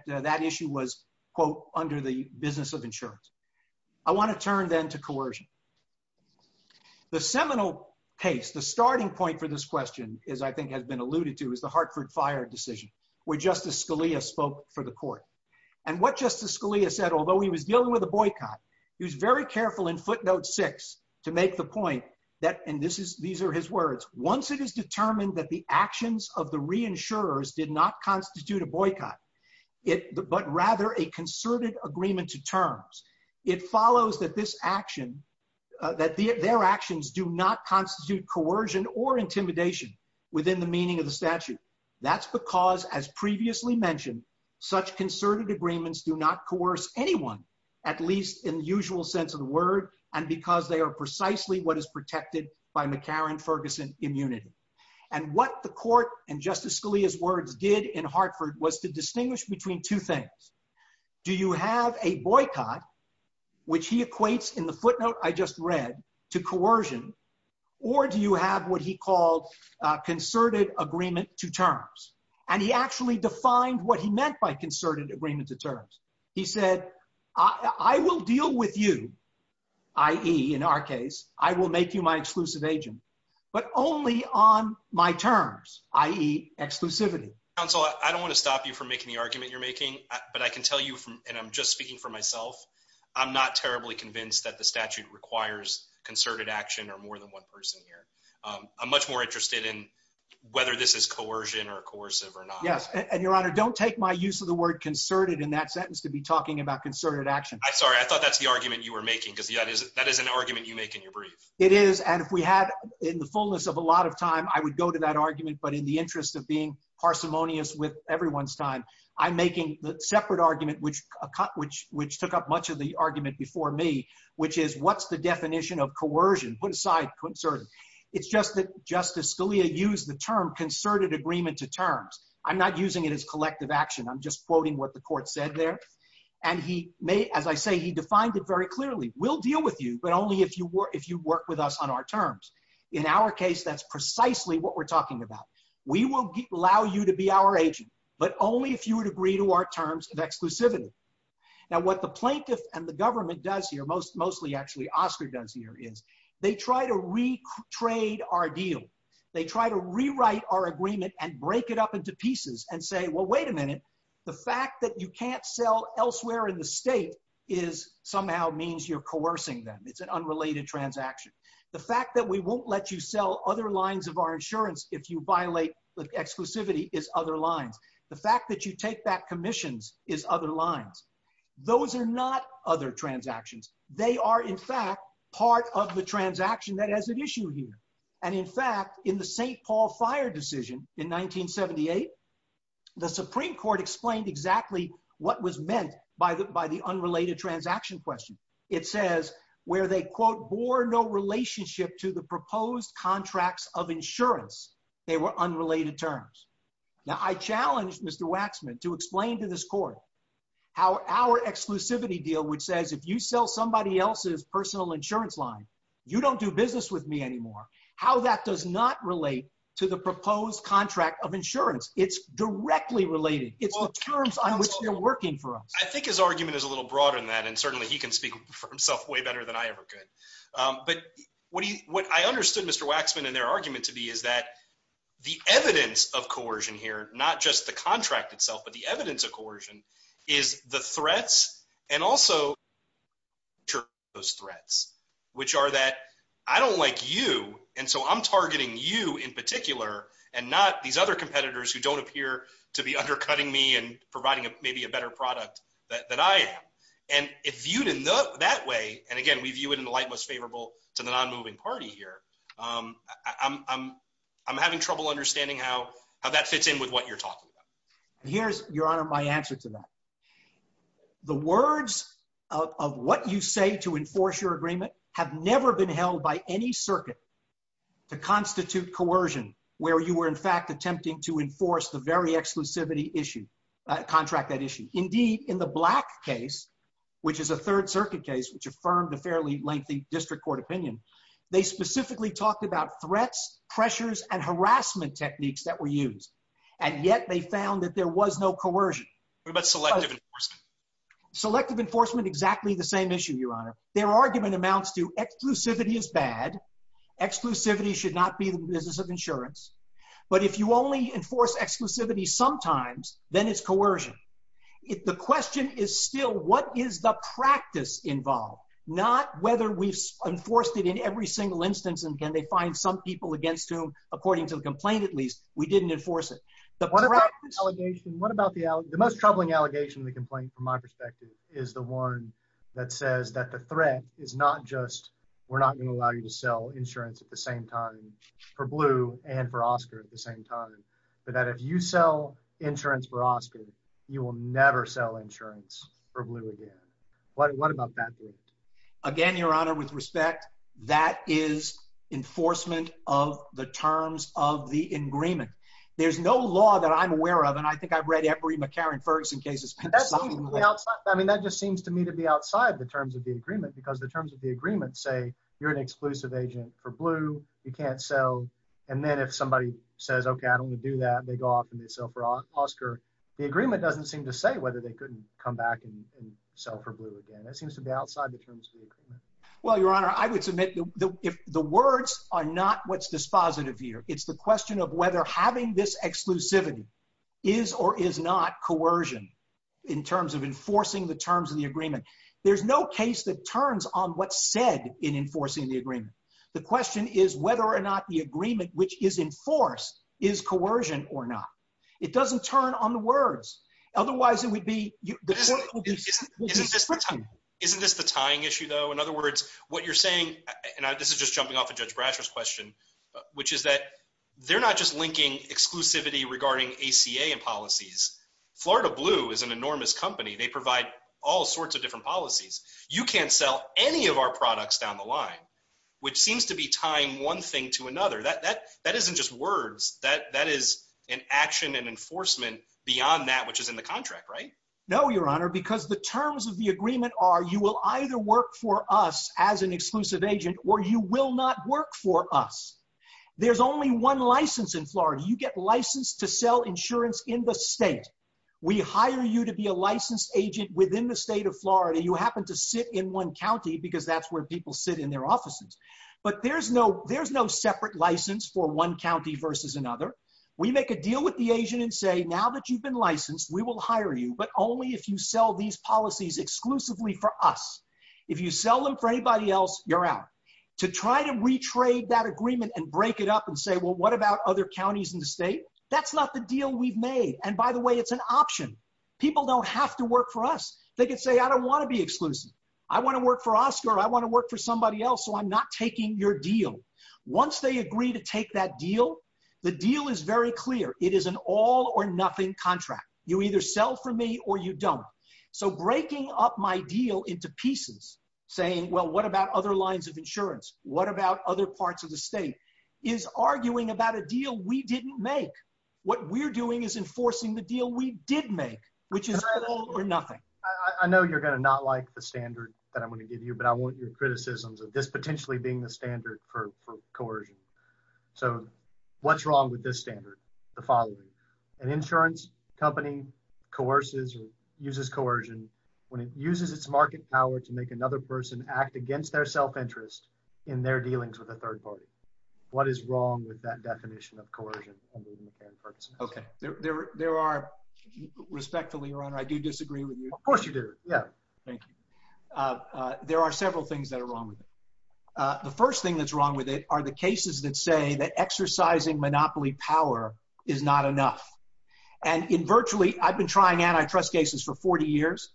that issue was, quote, under the business of insurance. I want to turn then to coercion. The seminal case, the starting point for this question, as I think has been alluded to, is the Hartford Fire decision where Justice Scalia spoke for the court. And what Justice Scalia said, although he was dealing with a boycott, he was very careful in footnote six to make the point that, and these are his words, once it is determined that the actions of the reinsurers did not constitute a boycott, but rather a concerted agreement to terms, it follows that this action, that their actions do not constitute coercion or intimidation within the meaning of the statute. That's because, as previously mentioned, such concerted agreements do not coerce anyone, at least in the usual sense of the word, and because they are precisely what is protected by McCarran-Ferguson immunity. And what the court, in Justice Scalia's words, did in Hartford was to distinguish between two things. Do you have a boycott, which he equates in the footnote I just read to coercion, or do you have what he called concerted agreement to terms? And he actually defined what he meant by concerted agreement to terms. He said, I will deal with you, i.e., in our case, I will make you my exclusive agent, but only on my terms, i.e., exclusivity. Counsel, I don't want to stop you from making the argument you're making, but I can tell you, and I'm just speaking for myself, I'm not terribly convinced that the statute requires concerted action or more than one person here. I'm much more interested in whether this is coercion or coercive or not. Yes, and, Your Honor, don't take my use of the word concerted in that sentence to be talking about concerted action. I'm sorry, I thought that's the argument you were making, because that is an argument you make in your brief. It is, and if we had in the fullness of a lot of time, I would go to that argument, but in the interest of being parsimonious with everyone's time, I'm making the separate argument, which took up much of the argument before me, which is, what's the definition of coercion? Put aside concerted. It's just that Justice Scalia used the term concerted agreement to terms. I'm not using it as collective action. I'm just quoting what the court said there. As I say, he defined it very clearly. We'll deal with you, but only if you work with us on our terms. In our case, that's precisely what we're talking about. We will allow you to be our agent, but only if you would agree to our terms of exclusivity. Now, what the plaintiff and the government does here, mostly actually Oscar does here, is they try to retrade our deal. They try to rewrite our agreement and break it up into pieces and say, well, wait a minute. The fact that you can't sell elsewhere in the state somehow means you're coercing them. It's an unrelated transaction. The fact that we won't let you sell other lines of our insurance if you violate the exclusivity is other lines. The fact that you take back commissions is other lines. Those are not other transactions. They are, in fact, part of the transaction that has an issue here. In fact, in the St. Paul fire decision in 1978, the Supreme Court explained exactly what was meant by the unrelated transaction question. It says where they, quote, bore no relationship to the proposed contracts of insurance, they were unrelated terms. Now, I challenged Mr. Waxman to explain to this court how our exclusivity deal, which says if you sell somebody else's personal insurance line, you don't do business with me anymore, how that does not relate to the proposed contract of insurance. It's directly related. It's the terms on which they're working for us. I think his argument is a little broader than that, and certainly he can speak for himself way better than I ever could. But what I understood Mr. Waxman and their argument to be is that the evidence of coercion here, not just the contract itself, but the evidence of coercion is the threats and also those threats, which are that I don't like you, and so I'm targeting you in particular and not these other competitors who don't appear to be undercutting me and providing maybe a better product than I am. And if viewed in that way, and again, we view it in the light most favorable to the non-moving party here, I'm having trouble understanding how that fits in with what you're talking about. Here's, Your Honor, my answer to that. The words of what you say to enforce your agreement have never been held by any circuit to constitute coercion, where you were in fact attempting to enforce the very exclusivity issue, contract that issue. Indeed, in the Black case, which is a Third Circuit case, which affirmed a fairly lengthy district court opinion, they specifically talked about threats, pressures, and harassment techniques that were used. And yet they found that there was no coercion. What about selective enforcement? Selective enforcement, exactly the same issue, Your Honor. Their argument amounts to exclusivity is bad. Exclusivity should not be the business of insurance. But if you only enforce exclusivity sometimes, then it's coercion. The question is still, what is the practice involved? Not whether we've enforced it in every single instance and can they find some people against whom, according to the complaint at least, we didn't enforce it. What about the most troubling allegation in the complaint, from my perspective, is the one that says that the threat is not just we're not going to allow you to sell insurance at the same time for Blue and for Oscar at the same time, but that if you sell insurance for Oscar, you will never sell insurance for Blue again. What about that point? Again, Your Honor, with respect, that is enforcement of the terms of the agreement. There's no law that I'm aware of, and I think I've read every McCarran-Ferguson case. I mean, that just seems to me to be outside the terms of the agreement, because the terms of the agreement say you're an exclusive agent for Blue, you can't sell. And then if somebody says, OK, I don't want to do that, they go off and they sell for Oscar. The agreement doesn't seem to say whether they couldn't come back and sell for Blue again. That seems to be outside the terms of the agreement. Well, Your Honor, I would submit the words are not what's dispositive here. It's the question of whether having this exclusivity is or is not coercion in terms of enforcing the terms of the agreement. There's no case that turns on what's said in enforcing the agreement. The question is whether or not the agreement which is enforced is coercion or not. It doesn't turn on the words. Isn't this the tying issue, though? In other words, what you're saying, and this is just jumping off of Judge Brasher's question, which is that they're not just linking exclusivity regarding ACA and policies. Florida Blue is an enormous company. They provide all sorts of different policies. You can't sell any of our products down the line, which seems to be tying one thing to another. That isn't just words. That is an action and enforcement beyond that which is in the contract, right? No, Your Honor, because the terms of the agreement are you will either work for us as an exclusive agent or you will not work for us. There's only one license in Florida. You get licensed to sell insurance in the state. We hire you to be a licensed agent within the state of Florida. You happen to sit in one county because that's where people sit in their offices. But there's no separate license for one county versus another. We make a deal with the agent and say, now that you've been licensed, we will hire you, but only if you sell these policies exclusively for us. If you sell them for anybody else, you're out. To try to retrade that agreement and break it up and say, well, what about other counties in the state? That's not the deal we've made. And by the way, it's an option. People don't have to work for us. They can say, I don't want to be exclusive. I want to work for Oscar. I want to work for somebody else, so I'm not taking your deal. Once they agree to take that deal, the deal is very clear. It is an all or nothing contract. You either sell for me or you don't. So breaking up my deal into pieces, saying, well, what about other lines of insurance? What about other parts of the state? Is arguing about a deal we didn't make. What we're doing is enforcing the deal we did make, which is all or nothing. I know you're going to not like the standard that I'm going to give you, but I want your criticisms of this potentially being the standard for coercion. So what's wrong with this standard? The following. An insurance company coerces or uses coercion when it uses its market power to make another person act against their self-interest in their dealings with a third party. What is wrong with that definition of coercion? OK. There are. Respectfully, Your Honor, I do disagree with you. Of course you do. Yeah. Thank you. There are several things that are wrong with it. The first thing that's wrong with it are the cases that say that exercising monopoly power is not enough. And in virtually I've been trying antitrust cases for 40 years.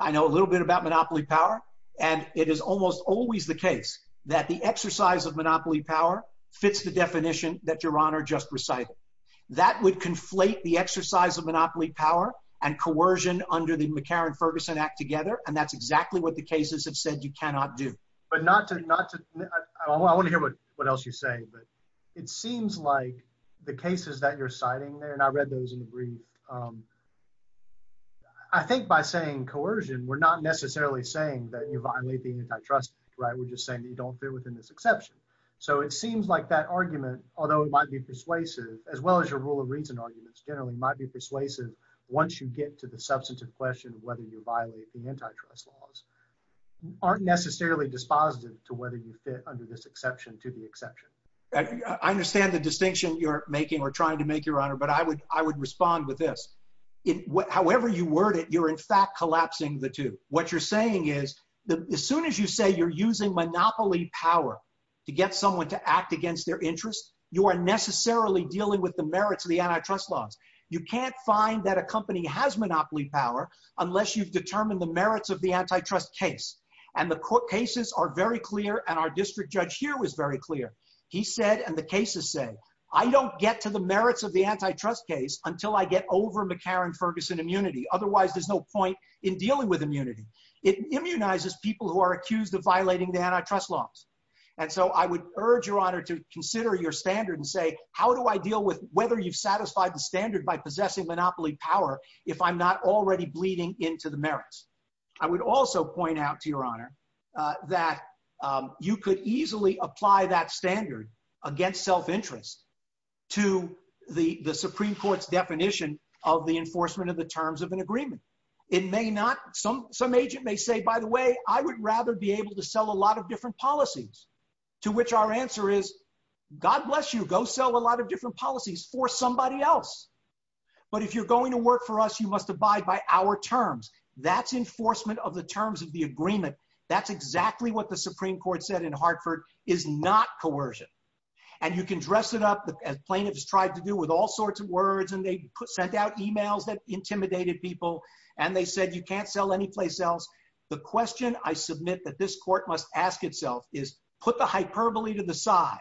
I know a little bit about monopoly power, and it is almost always the case that the exercise of monopoly power fits the definition that Your Honor just recited. That would conflate the exercise of monopoly power and coercion under the McCarran-Ferguson Act together. And that's exactly what the cases have said you cannot do. I want to hear what else you're saying. But it seems like the cases that you're citing there, and I read those in the brief, I think by saying coercion, we're not necessarily saying that you violate the antitrust. Right. We're just saying that you don't fit within this exception. So it seems like that argument, although it might be persuasive, as well as your rule of reason arguments generally might be persuasive once you get to the substantive question of whether you violate the antitrust laws, aren't necessarily dispositive to whether you fit under this exception to the exception. I understand the distinction you're making or trying to make, Your Honor, but I would respond with this. However you word it, you're in fact collapsing the two. What you're saying is that as soon as you say you're using monopoly power to get someone to act against their interest, you are necessarily dealing with the merits of the antitrust laws. You can't find that a company has monopoly power unless you've determined the merits of the antitrust case. And the court cases are very clear and our district judge here was very clear. He said, and the cases say, I don't get to the merits of the antitrust case until I get over McCarran-Ferguson immunity. Otherwise, there's no point in dealing with immunity. It immunizes people who are accused of violating the antitrust laws. And so I would urge, Your Honor, to consider your standard and say, how do I deal with whether you've satisfied the standard by possessing monopoly power if I'm not already bleeding into the merits? I would also point out to Your Honor that you could easily apply that standard against self-interest to the Supreme Court's definition of the enforcement of the terms of an agreement. It may not, some agent may say, by the way, I would rather be able to sell a lot of different policies. To which our answer is, God bless you, go sell a lot of different policies for somebody else. But if you're going to work for us, you must abide by our terms. That's enforcement of the terms of the agreement. That's exactly what the Supreme Court said in Hartford is not coercion. And you can dress it up as plaintiffs tried to do with all sorts of words and they sent out emails that intimidated people. And they said, you can't sell anyplace else. The question I submit that this court must ask itself is put the hyperbole to the side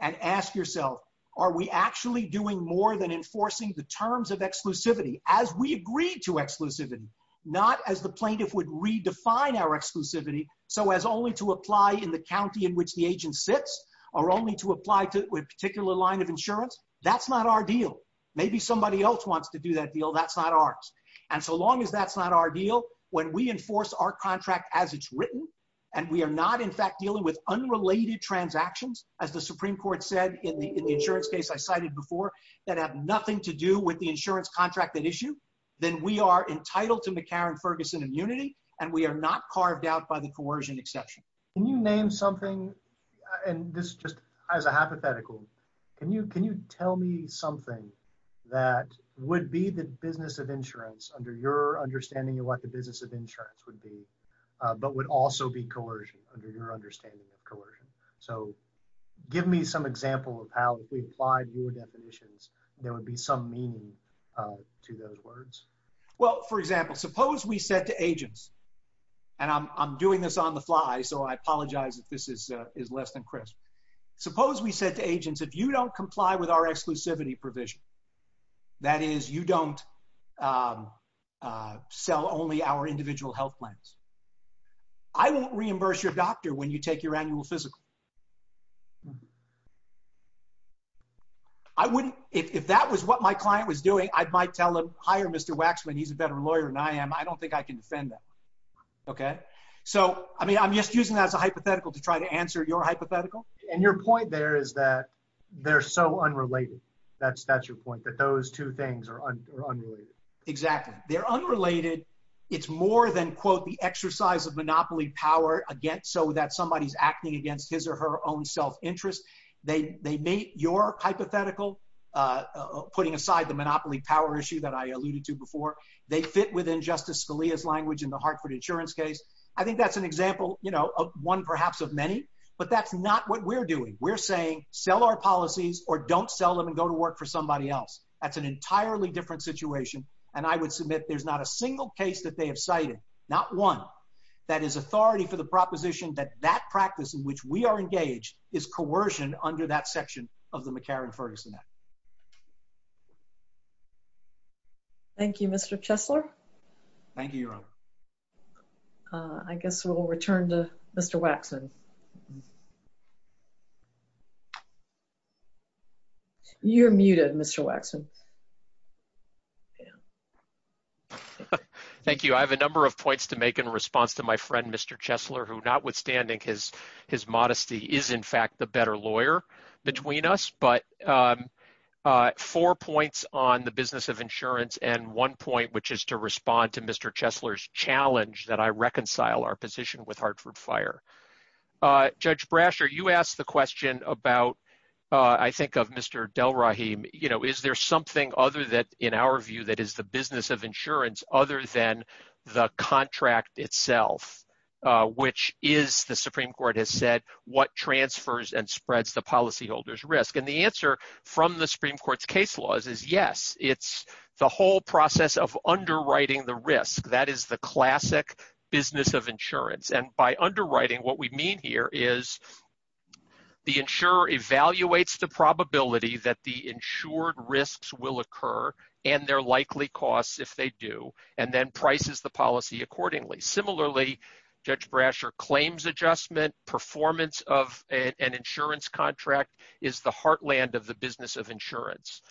and ask yourself, are we actually doing more than enforcing the terms of exclusivity as we agreed to exclusivity? Not as the plaintiff would redefine our exclusivity. So as only to apply in the county in which the agent sits or only to apply to a particular line of insurance. That's not our deal. Maybe somebody else wants to do that deal. That's not ours. And so long as that's not our deal, when we enforce our contract as it's written, and we are not in fact dealing with unrelated transactions, as the Supreme Court said in the insurance case I cited before, that have nothing to do with the insurance contract that issue, then we are entitled to McCarran-Ferguson immunity. And we are not carved out by the coercion exception. Can you name something, and this just as a hypothetical, can you tell me something that would be the business of insurance under your understanding of what the business of insurance would be, but would also be coercion under your understanding of coercion? So give me some example of how if we applied your definitions, there would be some meaning to those words. Well, for example, suppose we said to agents, and I'm doing this on the fly, so I apologize if this is less than crisp. Suppose we said to agents, if you don't comply with our exclusivity provision, that is you don't sell only our individual health plans, I won't reimburse your doctor when you take your annual physical. If that was what my client was doing, I might tell him, hire Mr. Waxman. He's a better lawyer than I am. I don't think I can defend that. So I'm just using that as a hypothetical to try to answer your hypothetical. And your point there is that they're so unrelated. That's your point, that those two things are unrelated. Exactly. They're unrelated. It's more than, quote, the exercise of monopoly power so that somebody's acting against his or her own self-interest. They meet your hypothetical, putting aside the monopoly power issue that I alluded to before. They fit within Justice Scalia's language in the Hartford insurance case. I think that's an example, you know, one perhaps of many. But that's not what we're doing. We're saying sell our policies or don't sell them and go to work for somebody else. That's an entirely different situation. And I would submit there's not a single case that they have cited, not one, that is authority for the proposition that that practice in which we are engaged is coercion under that section of the McCarran-Ferguson Act. Thank you, Mr. Chesler. Thank you, Your Honor. I guess we'll return to Mr. Waxman. You're muted, Mr. Waxman. Thank you. I have a number of points to make in response to my friend, Mr. Chesler, who, notwithstanding his modesty, is in fact the better lawyer between us. But four points on the business of insurance and one point, which is to respond to Mr. Chesler's challenge that I reconcile our position with Hartford Fire. Judge Brasher, you asked the question about, I think, of Mr. Delrahim, you know, is there something other than, in our view, that is the business of insurance other than the contract itself, which is, the Supreme Court has said, what transfers and spreads the policyholders risk? And the answer from the Supreme Court's case laws is, yes, it's the whole process of underwriting the risk. That is the classic business of insurance. And by underwriting, what we mean here is the insurer evaluates the probability that the insured risks will occur and their likely costs, if they do, and then prices the policy accordingly. Similarly, Judge Brasher claims adjustment performance of an insurance contract is the heartland of the business of insurance.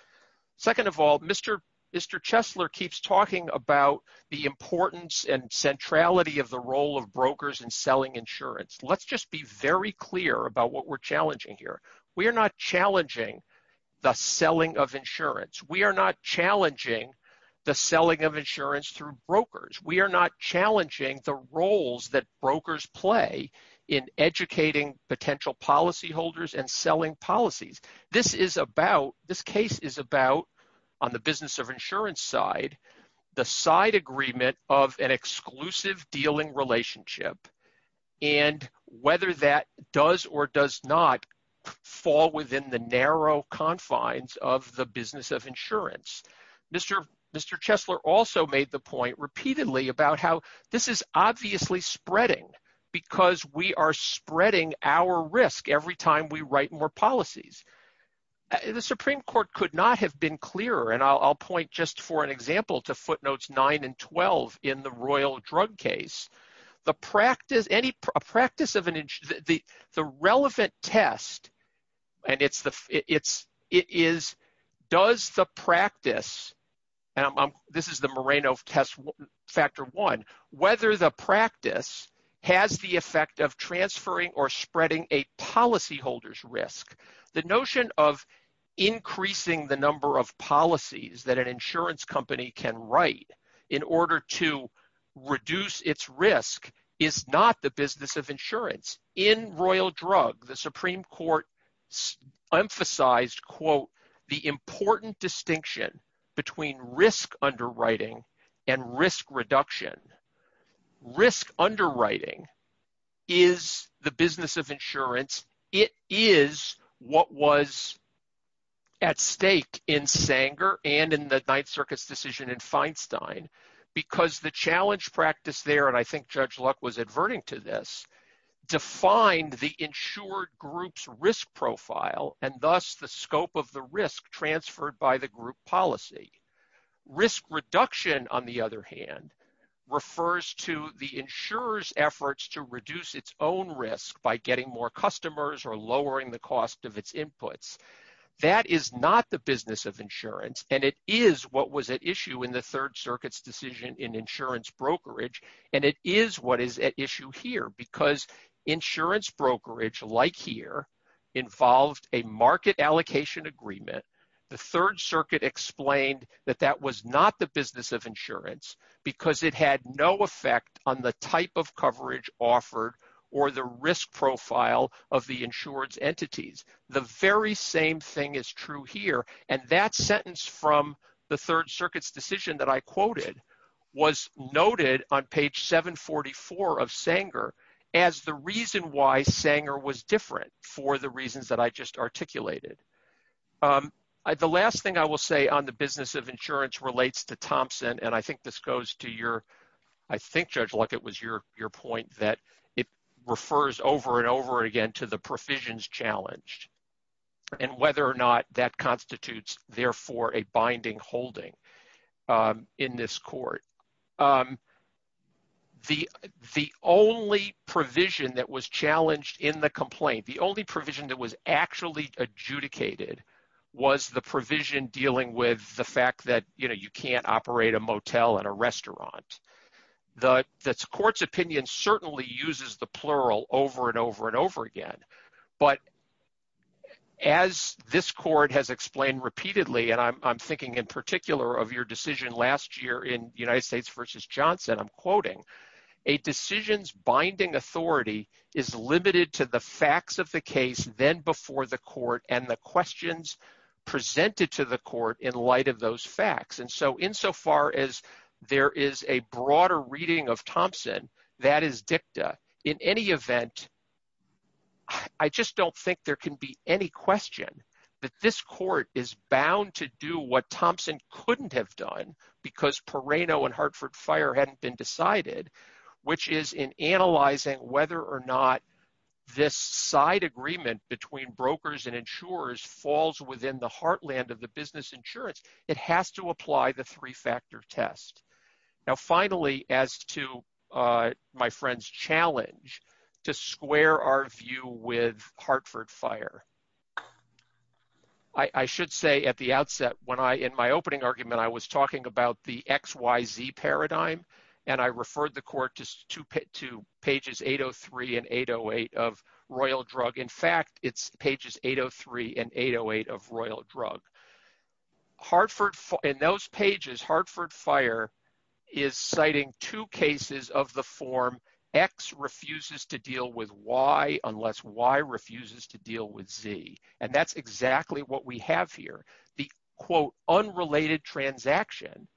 Second of all, Mr. Chesler keeps talking about the importance and centrality of the role of brokers in selling insurance. Let's just be very clear about what we're challenging here. We are not challenging the selling of insurance. We are not challenging the selling of insurance through brokers. We are not challenging the roles that brokers play in educating potential policyholders and selling policies. This case is about, on the business of insurance side, the side agreement of an exclusive dealing relationship and whether that does or does not fall within the narrow confines of the business of insurance. Mr. Chesler also made the point repeatedly about how this is obviously spreading because we are spreading our risk every time we write more policies. The Supreme Court could not have been clearer, and I'll point just for an example to footnotes 9 and 12 in the Royal Drug case. The relevant test, and it is does the practice, and this is the Moreno test factor one, whether the practice has the effect of transferring or spreading a policyholder's risk. The notion of increasing the number of policies that an insurance company can write in order to reduce its risk is not the business of insurance. In Royal Drug, the Supreme Court emphasized, quote, the important distinction between risk underwriting and risk reduction. Risk underwriting is the business of insurance. It is what was at stake in Sanger and in the Ninth Circuit's decision in Feinstein because the challenge practice there, and I think Judge Luck was adverting to this, defined the insured group's risk profile and thus the scope of the risk transferred by the group policy. Risk reduction, on the other hand, refers to the insurer's efforts to reduce its own risk by getting more customers or lowering the cost of its inputs. That is not the business of insurance, and it is what was at issue in the Third Circuit's decision in insurance brokerage, and it is what is at issue here because insurance brokerage, like here, involved a market allocation agreement. The Third Circuit explained that that was not the business of insurance because it had no effect on the type of coverage offered or the risk profile of the insurance entities. The very same thing is true here, and that sentence from the Third Circuit's decision that I quoted was noted on page 744 of Sanger as the reason why Sanger was different for the reasons that I just articulated. The last thing I will say on the business of insurance relates to Thompson, and I think this goes to your – I think, Judge Luck, it was your point that it refers over and over again to the provisions challenged and whether or not that constitutes, therefore, a binding holding in this court. The only provision that was challenged in the complaint, the only provision that was actually adjudicated was the provision dealing with the fact that you can't operate a motel and a restaurant. The court's opinion certainly uses the plural over and over and over again, but as this court has explained repeatedly, and I'm thinking in particular of your decision last year in United States v. Johnson, I'm quoting, a decision's binding authority is limited to the facts of the case then before the court and the questions presented to the court in light of those facts. And so insofar as there is a broader reading of Thompson, that is dicta, in any event, I just don't think there can be any question that this court is bound to do what Thompson couldn't have done because Perrano and Hartford Fire hadn't been decided, which is in analyzing whether or not this side agreement between brokers and insurers falls within the heartland of the business insurance. It has to apply the three-factor test. Now, finally, as to my friend's challenge to square our view with Hartford Fire, I should say at the outset, in my opening argument, I was talking about the XYZ paradigm and I referred the court to pages 803 and 808 of Royal Drug. In fact, it's pages 803 and 808 of Royal Drug. In those pages, Hartford Fire is citing two cases of the form X refuses to deal with Y unless Y refuses to deal with Z. And that's exactly what we have here. The, quote, unrelated transaction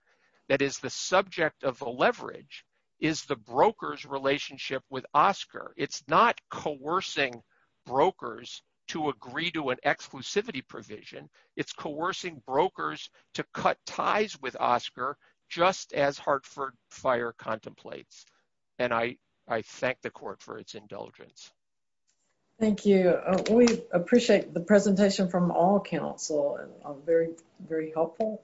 that is the subject of the leverage is the broker's relationship with Oscar. It's not coercing brokers to agree to an exclusivity provision. It's coercing brokers to cut ties with Oscar, just as Hartford Fire contemplates. And I thank the court for its indulgence. Thank you. We appreciate the presentation from all counsel. Very, very helpful.